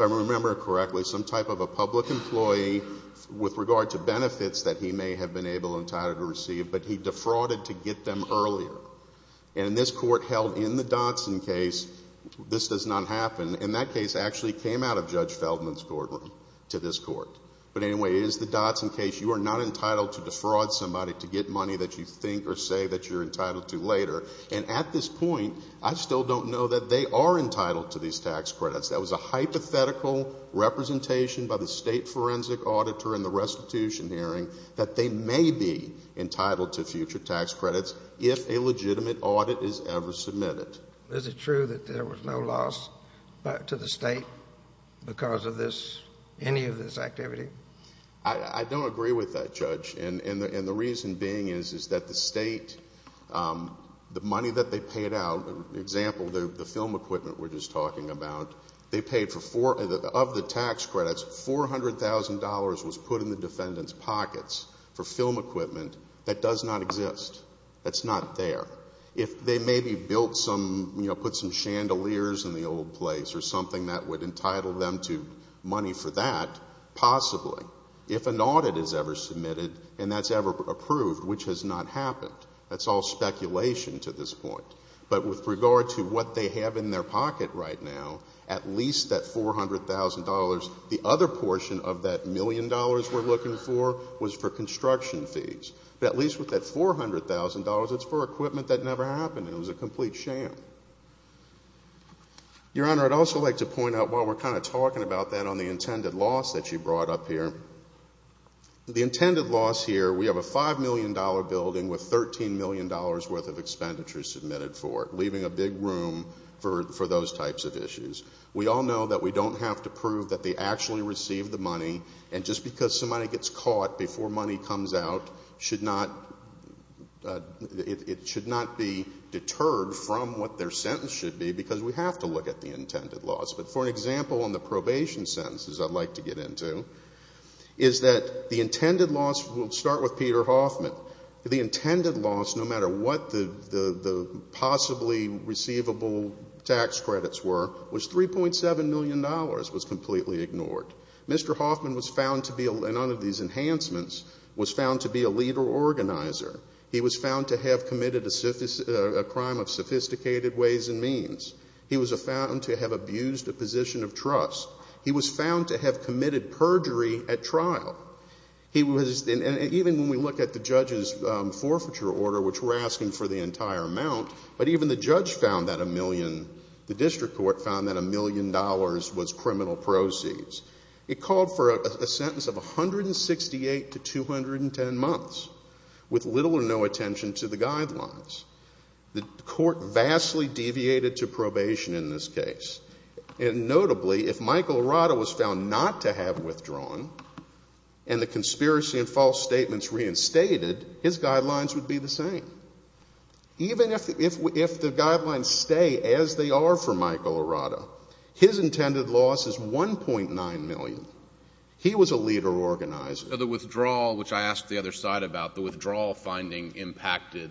I remember correctly, some type of a public employee with regard to benefits that he may have been able and entitled to receive, but he defrauded to get them earlier. And this court held in the Dotson case, this does not happen, and that case actually came out of Judge Feldman's courtroom to this court. But anyway, it is the Dotson case. You are not entitled to defraud somebody to get money that you think or say that you're entitled to later. And at this point, I still don't know that they are entitled to these tax credits. That was a hypothetical representation by the state forensic auditor in the restitution hearing that they may be entitled to future tax credits if a legitimate audit is ever submitted. Is it true that there was no loss to the state because of this, any of this activity? I don't agree with that, Judge. And the reason being is that the state, the money that they paid out, for example, the film equipment we're just talking about, of the tax credits, $400,000 was put in the defendant's pockets for film equipment that does not exist, that's not there. If they maybe put some chandeliers in the old place or something that would entitle them to money for that, possibly, if an audit is ever submitted and that's ever approved, which has not happened. That's all speculation to this point. But with regard to what they have in their pocket right now, at least that $400,000, the other portion of that million dollars we're looking for was for construction fees. But at least with that $400,000, it's for equipment that never happened and it was a complete sham. Your Honor, I'd also like to point out, while we're kind of talking about that on the intended loss that you brought up here, the intended loss here, we have a $5 million building with $13 million worth of expenditures submitted for it, leaving a big room for those types of issues. We all know that we don't have to prove that they actually received the money and just because somebody gets caught before money comes out, it should not be deterred from what their sentence should be because we have to look at the intended loss. But for an example, on the probation sentences I'd like to get into, is that the intended loss, we'll start with Peter Hoffman. The intended loss, no matter what the possibly receivable tax credits were, was $3.7 million was completely ignored. Mr. Hoffman was found to be, and under these enhancements, was found to be a leader organizer. He was found to have committed a crime of sophisticated ways and means. He was found to have abused a position of trust. He was found to have committed perjury at trial. Even when we look at the judge's forfeiture order, which we're asking for the entire amount, but even the judge found that a million, the district court found that a million dollars was criminal proceeds. It called for a sentence of 168 to 210 months with little or no attention to the guidelines. The court vastly deviated to probation in this case. And notably, if Michael Arata was found not to have withdrawn and the conspiracy and false statements reinstated, his guidelines would be the same. Even if the guidelines stay as they are for Michael Arata, his intended loss is $1.9 million. He was a leader organizer. The withdrawal, which I asked the other side about, the withdrawal finding impacted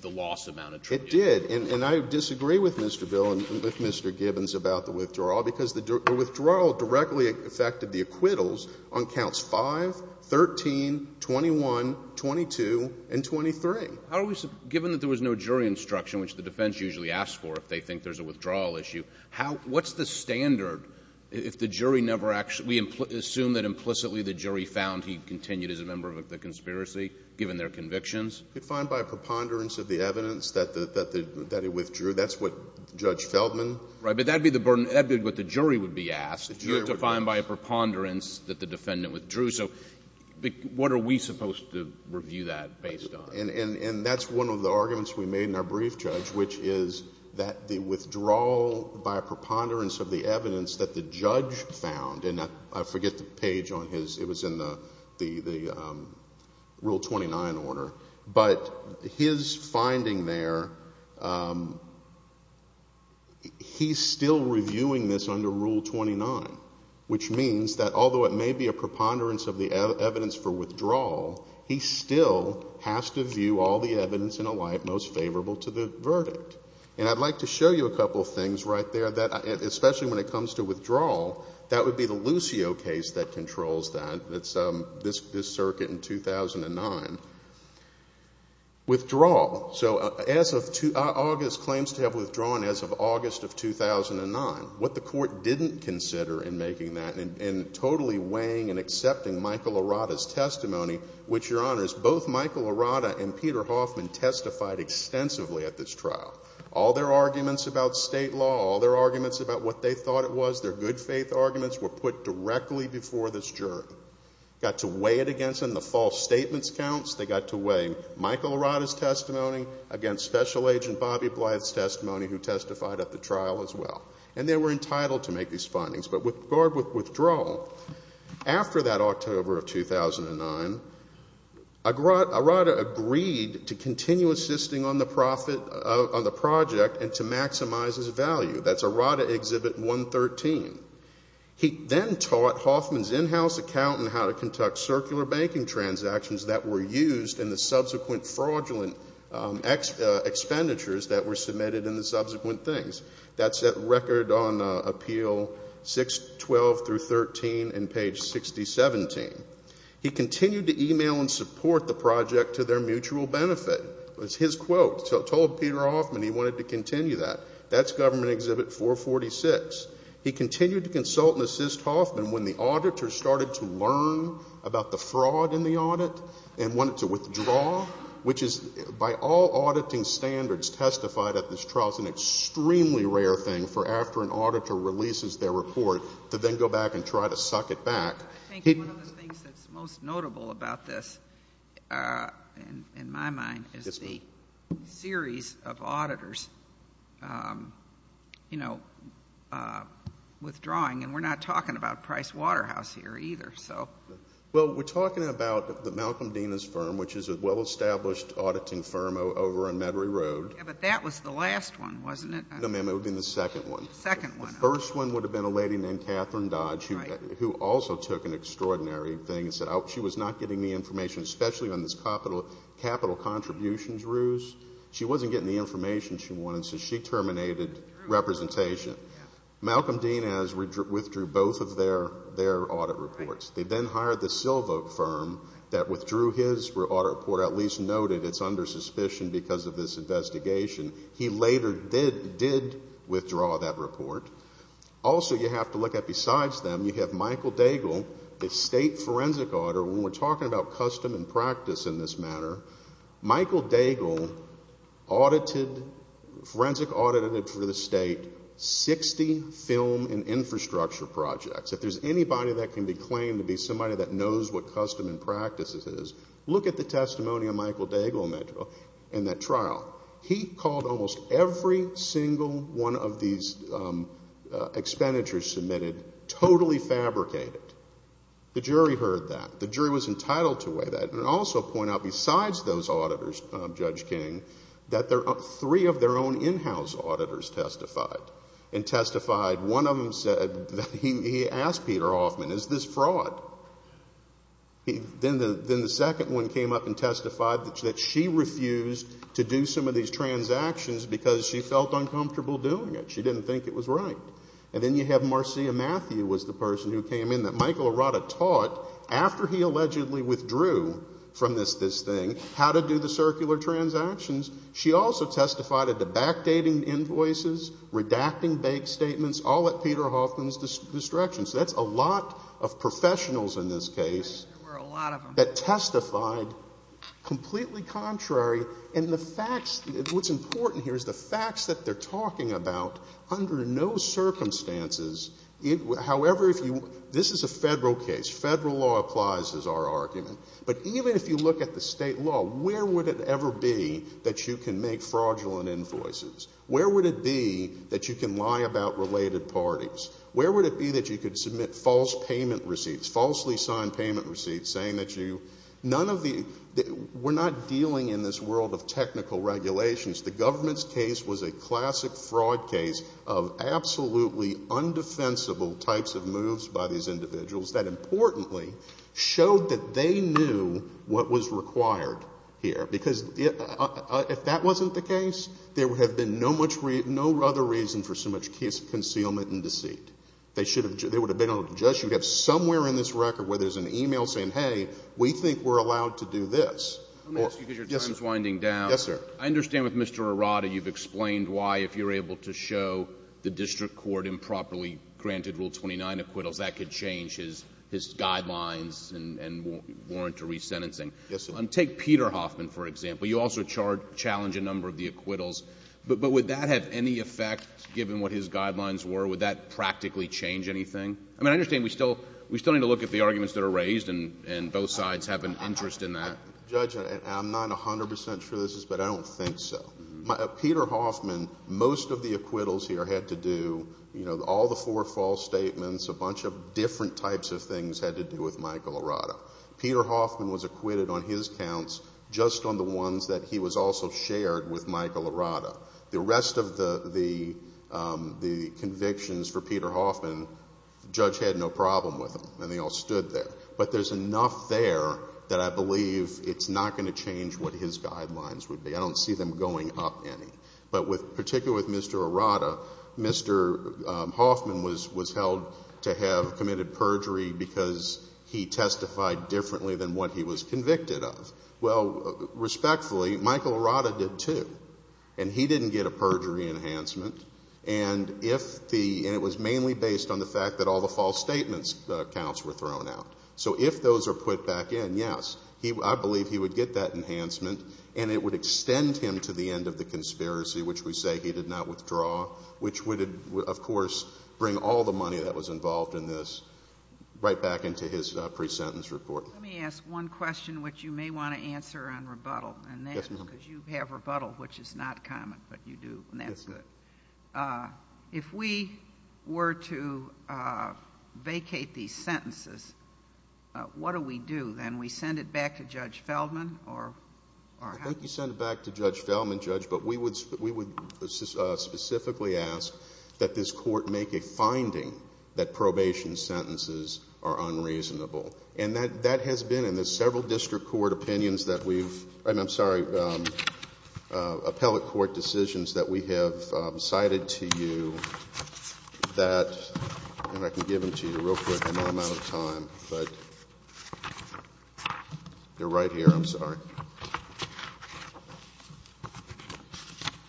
the loss amount attributed. It did. And I disagree with Mr. Bill and with Mr. Gibbons about the withdrawal because the withdrawal directly affected the acquittals on counts 5, 13, 21, 22, and 23. Given that there was no jury instruction, which the defense usually asks for if they think there's a withdrawal issue, what's the standard if the jury never actually, we assume that implicitly the jury found he continued as a member of the conspiracy given their convictions? Defined by a preponderance of the evidence that he withdrew. That's what Judge Feldman. Right, but that would be what the jury would be asked. You have to find by a preponderance that the defendant withdrew. So what are we supposed to review that based on? And that's one of the arguments we made in our brief, Judge, which is that the withdrawal by a preponderance of the evidence that the judge found, and I forget the page on his, it was in the Rule 29 order, but his finding there, he's still reviewing this under Rule 29, which means that although it may be a preponderance of the evidence for withdrawal, he still has to view all the evidence in a light most favorable to the verdict. And I'd like to show you a couple of things right there, especially when it comes to withdrawal. That would be the Lucio case that controls that. It's this circuit in 2009. Withdrawal. So August claims to have withdrawn as of August of 2009. What the court didn't consider in making that, in totally weighing and accepting Michael Arata's testimony, which, Your Honors, both Michael Arata and Peter Hoffman testified extensively at this trial. All their arguments about state law, all their arguments about what they thought it was, their good faith arguments were put directly before this jury. Got to weigh it against them, the false statements counts, they got to weigh Michael Arata's testimony against Special Agent Bobby Blythe's testimony who testified at the trial as well. And they were entitled to make these findings. But with regard with withdrawal, after that October of 2009, Arata agreed to continue assisting on the project and to maximize his value. That's Arata Exhibit 113. He then taught Hoffman's in-house accountant how to conduct circular banking transactions that were used in the subsequent fraudulent expenditures that were submitted in the subsequent things. That's that record on Appeal 612 through 13 in page 6017. He continued to email and support the project to their mutual benefit. That's his quote. He told Peter Hoffman he wanted to continue that. That's Government Exhibit 446. He continued to consult and assist Hoffman when the auditors started to learn about the fraud in the audit and wanted to withdraw, which is, by all auditing standards, testified at this trial, it's an extremely rare thing for after an auditor releases their report to then go back and try to suck it back. I think one of the things that's most notable about this, in my mind, is the series of auditors withdrawing. And we're not talking about Price Waterhouse here either. Well, we're talking about Malcolm Dena's firm, which is a well-established auditing firm over on Metairie Road. Yeah, but that was the last one, wasn't it? No, ma'am, it would have been the second one. The second one. The second one would have been a lady named Catherine Dodge, who also took an extraordinary thing and said she was not getting the information, especially on this capital contributions ruse. She wasn't getting the information she wanted, so she terminated representation. Malcolm Dena's withdrew both of their audit reports. They then hired the Silva firm that withdrew his audit report, at least noted it's under suspicion because of this investigation. He later did withdraw that report. Also, you have to look at besides them, you have Michael Daigle, the state forensic auditor. When we're talking about custom and practice in this matter, Michael Daigle forensic audited for the state 60 film and infrastructure projects. If there's anybody that can be claimed to be somebody that knows what custom and practice is, look at the testimony of Michael Daigle in that trial. He called almost every single one of these expenditures submitted totally fabricated. The jury heard that. The jury was entitled to weigh that and also point out besides those auditors, Judge King, that three of their own in-house auditors testified and testified. One of them said that he asked Peter Hoffman, is this fraud? Then the second one came up and testified that she refused to do some of these transactions because she felt uncomfortable doing it. She didn't think it was right. And then you have Marcia Matthew was the person who came in that Michael Arata taught, after he allegedly withdrew from this thing, how to do the circular transactions. She also testified at the backdating invoices, redacting bank statements, all at Peter Hoffman's distraction. So that's a lot of professionals in this case that testified completely contrary. And the facts, what's important here is the facts that they're talking about under no circumstances. However, this is a federal case. Federal law applies is our argument. But even if you look at the state law, where would it ever be that you can make fraudulent invoices? Where would it be that you can lie about related parties? Where would it be that you could submit false payment receipts, falsely signed payment receipts, saying that you none of the we're not dealing in this world of technical regulations. The government's case was a classic fraud case of absolutely undefensible types of moves by these individuals that importantly showed that they knew what was required here. Because if that wasn't the case, there would have been no other reason for so much concealment and deceit. They would have been able to judge you. You'd have somewhere in this record where there's an email saying, hey, we think we're allowed to do this. Let me ask you because your time is winding down. Yes, sir. I understand with Mr. Arata you've explained why if you're able to show the district court improperly granted Rule 29 acquittals, Yes, sir. take Peter Hoffman, for example. You also challenge a number of the acquittals. But would that have any effect given what his guidelines were? Would that practically change anything? I mean, I understand we still need to look at the arguments that are raised and both sides have an interest in that. Judge, I'm not 100 percent sure this is, but I don't think so. Peter Hoffman, most of the acquittals here had to do, you know, all the four false statements, a bunch of different types of things had to do with Michael Arata. Peter Hoffman was acquitted on his counts just on the ones that he was also shared with Michael Arata. The rest of the convictions for Peter Hoffman, the judge had no problem with them and they all stood there. But there's enough there that I believe it's not going to change what his guidelines would be. I don't see them going up any. But particularly with Mr. Arata, Mr. Hoffman was held to have committed perjury because he testified differently than what he was convicted of. Well, respectfully, Michael Arata did too, and he didn't get a perjury enhancement, and it was mainly based on the fact that all the false statement counts were thrown out. So if those are put back in, yes, I believe he would get that enhancement and it would extend him to the end of the conspiracy, which we say he did not withdraw, which would, of course, bring all the money that was involved in this right back into his pre-sentence report. Let me ask one question which you may want to answer on rebuttal. Yes, ma'am. Because you have rebuttal, which is not common, but you do, and that's good. Yes, ma'am. If we were to vacate these sentences, what do we do? Then we send it back to Judge Feldman or how? I think you send it back to Judge Feldman, Judge, but we would specifically ask that this court make a finding that probation sentences are unreasonable. And that has been in the several district court opinions that we've – I'm sorry, appellate court decisions that we have cited to you that – they're right here. I'm sorry.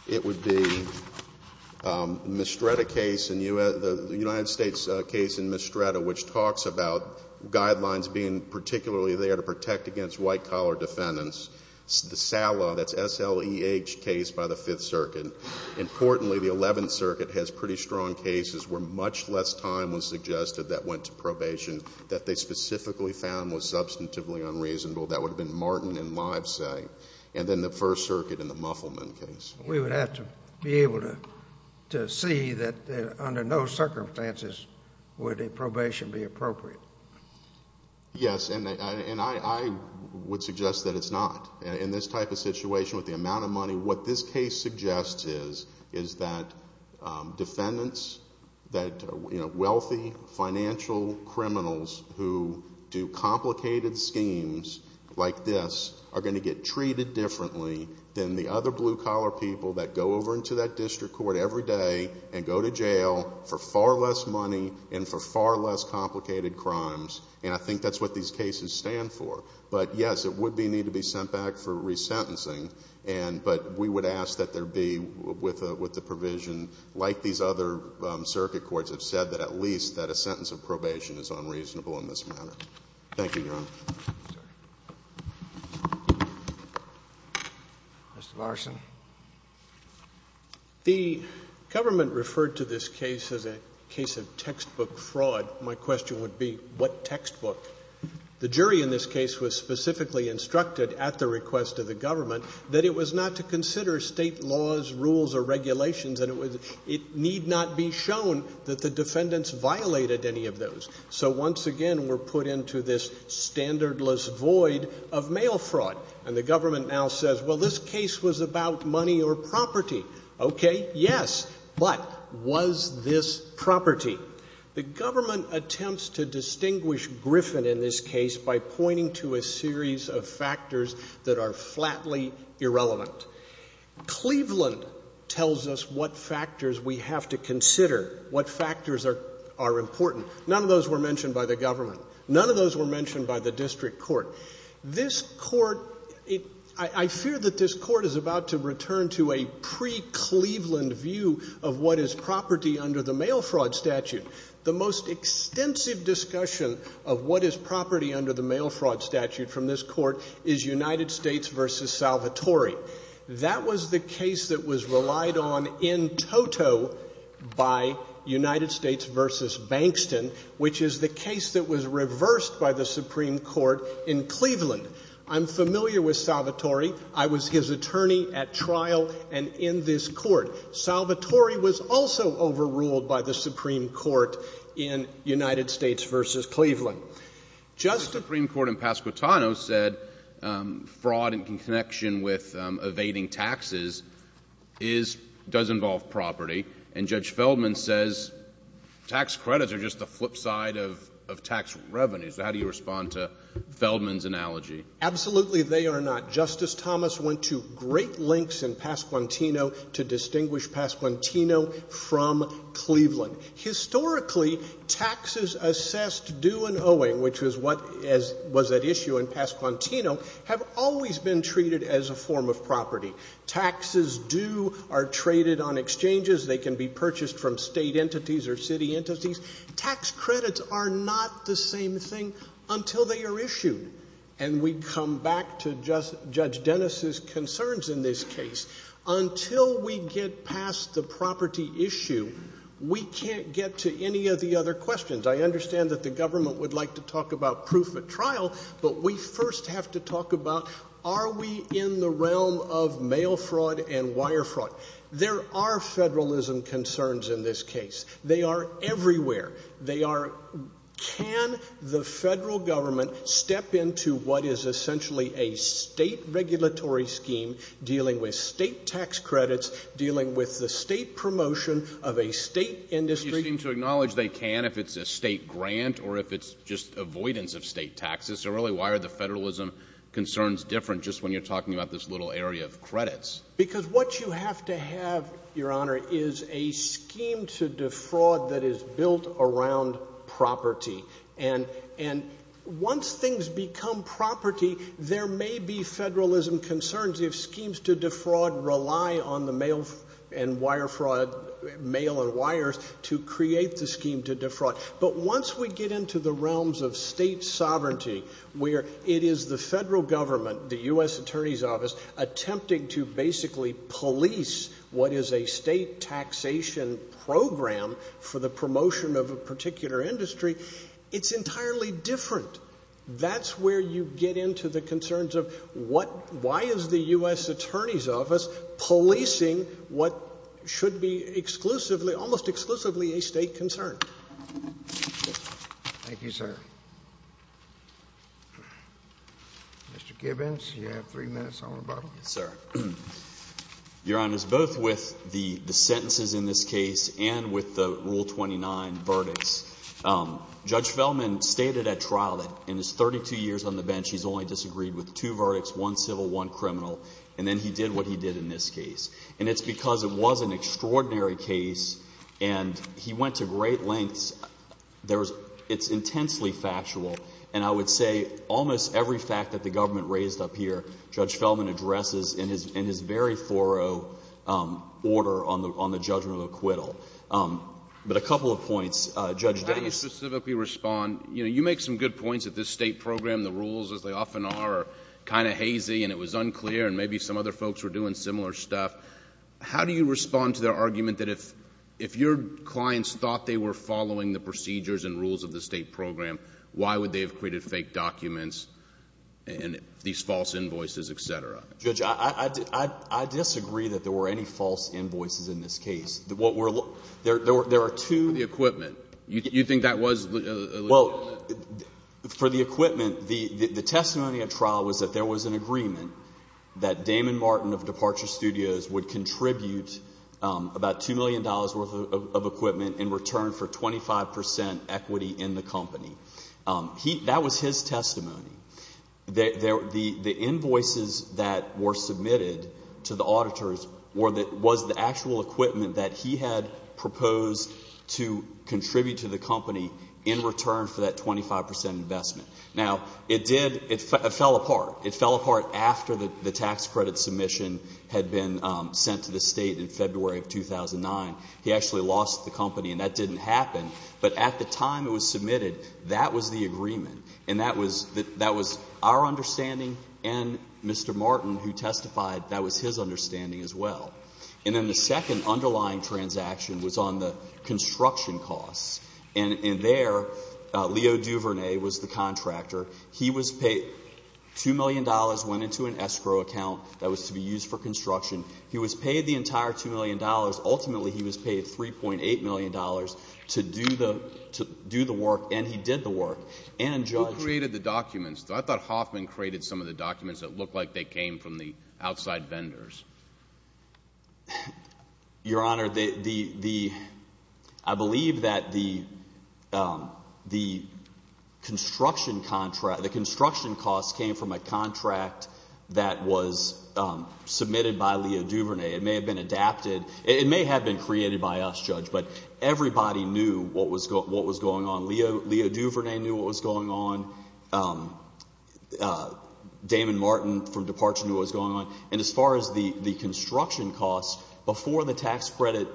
It would be the Mistretta case in – the United States case in Mistretta, which talks about guidelines being particularly there to protect against white-collar defendants, the SLEH case by the Fifth Circuit. Importantly, the Eleventh Circuit has pretty strong cases where much less time was suggested that went to probation that they specifically found was substantively unreasonable. That would have been Martin and Livesay, and then the First Circuit in the Muffleman case. We would have to be able to see that under no circumstances would a probation be appropriate. Yes, and I would suggest that it's not. In this type of situation with the amount of money, what this case suggests is, is that defendants, that wealthy financial criminals who do complicated schemes like this, are going to get treated differently than the other blue-collar people that go over into that district court every day and go to jail for far less money and for far less complicated crimes. And I think that's what these cases stand for. But, yes, it would need to be sent back for resentencing. But we would ask that there be, with the provision, like these other circuit courts have said, that at least that a sentence of probation is unreasonable in this matter. Thank you, Your Honor. Mr. Larson. The government referred to this case as a case of textbook fraud. My question would be, what textbook? The jury in this case was specifically instructed at the request of the government that it was not to consider state laws, rules, or regulations, and it need not be shown that the defendants violated any of those. So, once again, we're put into this standardless void of mail fraud. And the government now says, well, this case was about money or property. Okay, yes, but was this property? The government attempts to distinguish Griffin in this case by pointing to a series of factors that are flatly irrelevant. Cleveland tells us what factors we have to consider, what factors are important. None of those were mentioned by the government. None of those were mentioned by the district court. This court, I fear that this court is about to return to a pre-Cleveland view of what is property under the mail fraud statute. The most extensive discussion of what is property under the mail fraud statute from this court is United States v. Salvatore. That was the case that was relied on in toto by United States v. Bankston, which is the case that was reversed by the Supreme Court in Cleveland. I'm familiar with Salvatore. I was his attorney at trial and in this court. Salvatore was also overruled by the Supreme Court in United States v. Cleveland. The Supreme Court in Pasquotano said fraud in connection with evading taxes does involve property, and Judge Feldman says tax credits are just the flip side of tax revenues. How do you respond to Feldman's analogy? Absolutely they are not. Justice Thomas went to great lengths in Pasquotano to distinguish Pasquotano from Cleveland. Historically, taxes assessed due and owing, which was at issue in Pasquotano, have always been treated as a form of property. Taxes due are traded on exchanges. They can be purchased from state entities or city entities. Tax credits are not the same thing until they are issued. And we come back to Judge Dennis's concerns in this case. Until we get past the property issue, we can't get to any of the other questions. I understand that the government would like to talk about proof at trial, but we first have to talk about are we in the realm of mail fraud and wire fraud. There are federalism concerns in this case. They are everywhere. They are can the federal government step into what is essentially a state regulatory scheme dealing with state tax credits, dealing with the state promotion of a state industry. But you seem to acknowledge they can if it's a state grant or if it's just avoidance of state taxes. So really why are the federalism concerns different just when you're talking about this little area of credits? Because what you have to have, Your Honor, is a scheme to defraud that is built around property. And once things become property, there may be federalism concerns if schemes to defraud rely on the mail and wire fraud, mail and wires to create the scheme to defraud. But once we get into the realms of state sovereignty where it is the federal government, the U.S. Attorney's Office, attempting to basically police what is a state taxation program for the promotion of a particular industry, it's entirely different. That's where you get into the concerns of why is the U.S. Attorney's Office policing what should be almost exclusively a state concern. Thank you, sir. Mr. Gibbons, you have three minutes on rebuttal. Yes, sir. Your Honor, both with the sentences in this case and with the Rule 29 verdicts, Judge Feldman stated at trial that in his 32 years on the bench he's only disagreed with two verdicts, one civil, one criminal, and then he did what he did in this case. And it's because it was an extraordinary case and he went to great lengths. It's intensely factual, and I would say almost every fact that the government raised up here, Judge Feldman addresses in his very thorough order on the judgment of acquittal. But a couple of points. Judge Dennis? How do you specifically respond? You make some good points that this state program, the rules as they often are, are kind of hazy and it was unclear and maybe some other folks were doing similar stuff. How do you respond to their argument that if your clients thought they were following the procedures and rules of the state program, why would they have created fake documents and these false invoices, etc.? Judge, I disagree that there were any false invoices in this case. There are two— For the equipment. You think that was— Well, for the equipment, the testimony at trial was that there was an agreement that Damon Martin of Departure Studios would contribute about $2 million worth of equipment in return for 25 percent equity in the company. That was his testimony. The invoices that were submitted to the auditors was the actual equipment that he had proposed to contribute to the company in return for that 25 percent investment. Now, it did—it fell apart. It fell apart after the tax credit submission had been sent to the state in February of 2009. He actually lost the company and that didn't happen, but at the time it was submitted, that was the agreement and that was our understanding and Mr. Martin who testified, that was his understanding as well. And then the second underlying transaction was on the construction costs and there, Leo Duvernay was the contractor. He was paid—$2 million went into an escrow account that was to be used for construction. He was paid the entire $2 million. Ultimately, he was paid $3.8 million to do the work and he did the work. And Judge— Who created the documents? I thought Hoffman created some of the documents that looked like they came from the outside vendors. Your Honor, the—I believe that the construction contract—the construction costs came from a contract that was submitted by Leo Duvernay. It may have been adapted. It may have been created by us, Judge, but everybody knew what was going on. Leo Duvernay knew what was going on. Damon Martin from Departure knew what was going on. And as far as the construction costs, before the tax credit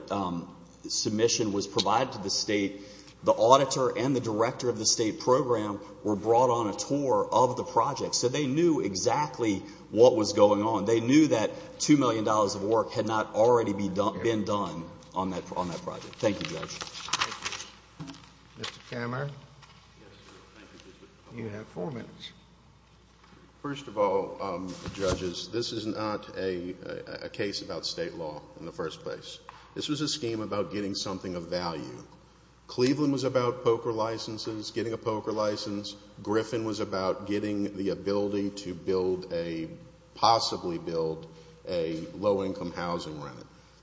submission was provided to the state, the auditor and the director of the state program were brought on a tour of the project. So they knew exactly what was going on. They knew that $2 million of work had not already been done on that project. Thank you, Judge. Thank you. Mr. Cameron, you have four minutes. First of all, Judges, this is not a case about state law in the first place. This was a scheme about getting something of value. Cleveland was about poker licenses, getting a poker license. Griffin was about getting the ability to build a—possibly build a low-income housing rent.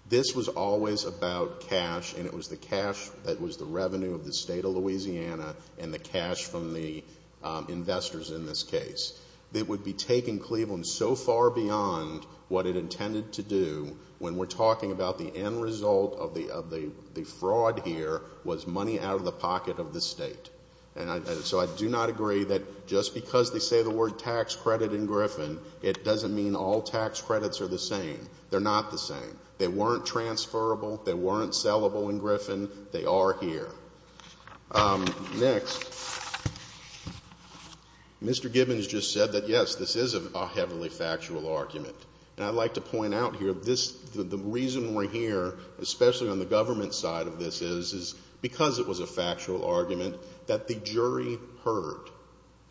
This was always about cash, and it was the cash that was the revenue of the state of Louisiana and the cash from the investors in this case. It would be taking Cleveland so far beyond what it intended to do when we're talking about the end result of the fraud here was money out of the pocket of the state. And so I do not agree that just because they say the word tax credit in Griffin, it doesn't mean all tax credits are the same. They're not the same. They weren't transferable. They weren't sellable in Griffin. They are here. Next. Mr. Gibbons just said that, yes, this is a heavily factual argument. And I'd like to point out here, the reason we're here, especially on the government side of this, is because it was a factual argument that the jury heard.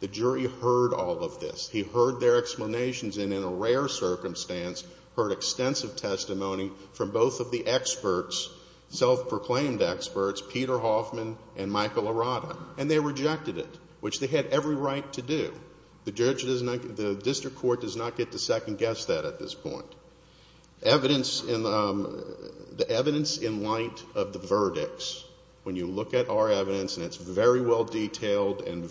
The jury heard all of this. He heard their explanations and, in a rare circumstance, heard extensive testimony from both of the experts, self-proclaimed experts, Peter Hoffman and Michael Arata. And they rejected it, which they had every right to do. The district court does not get to second-guess that at this point. The evidence in light of the verdicts, when you look at our evidence, and it's very well detailed in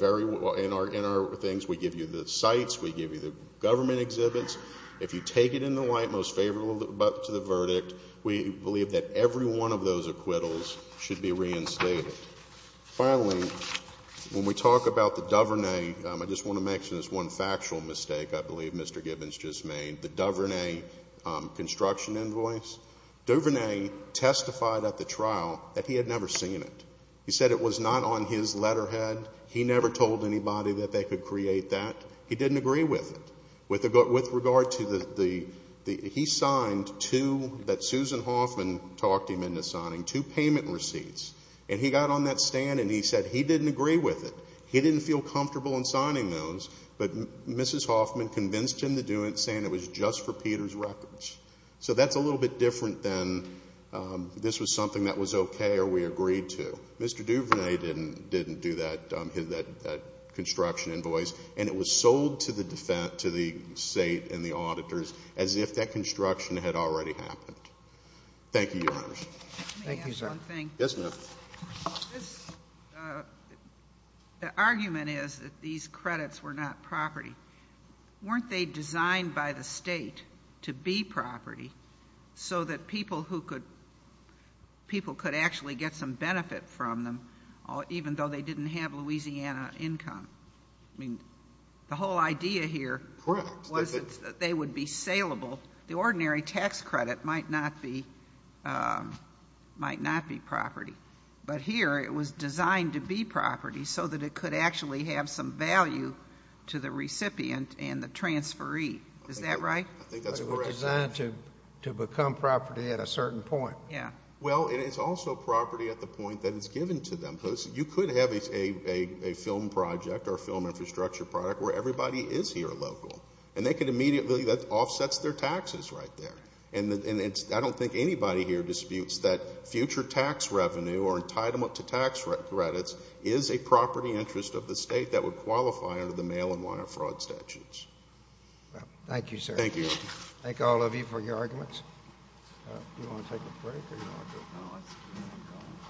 our things. We give you the sites. We give you the government exhibits. If you take it in the light most favorable to the verdict, we believe that every one of those acquittals should be reinstated. Finally, when we talk about the DuVernay, I just want to mention this one factual mistake I believe Mr. Gibbons just made, the DuVernay construction invoice. DuVernay testified at the trial that he had never seen it. He said it was not on his letterhead. He never told anybody that they could create that. He didn't agree with it. With regard to the he signed two that Susan Hoffman talked him into signing, two payment receipts, and he got on that stand and he said he didn't agree with it. He didn't feel comfortable in signing those, but Mrs. Hoffman convinced him to do it saying it was just for Peter's records. So that's a little bit different than this was something that was okay or we agreed to. Mr. DuVernay didn't do that construction invoice, and it was sold to the state and the auditors as if that construction had already happened. Thank you, Your Honors. Let me ask one thing. Yes, ma'am. The argument is that these credits were not property. Weren't they designed by the state to be property so that people could actually get some benefit from them, even though they didn't have Louisiana income? I mean, the whole idea here was that they would be saleable. The ordinary tax credit might not be property, but here it was designed to be property so that it could actually have some value to the recipient and the transferee. Is that right? I think that's correct. It was designed to become property at a certain point. Yeah. Well, it is also property at the point that it's given to them. You could have a film project or a film infrastructure project where everybody is here local, and they could immediately, that offsets their taxes right there. And I don't think anybody here disputes that future tax revenue or entitlement to tax credits is a property interest of the state that would qualify under the mail-in wire fraud statutes. Thank you, sir. Thank you. Thank all of you for your arguments. Do you want to take a break or do you want to go home?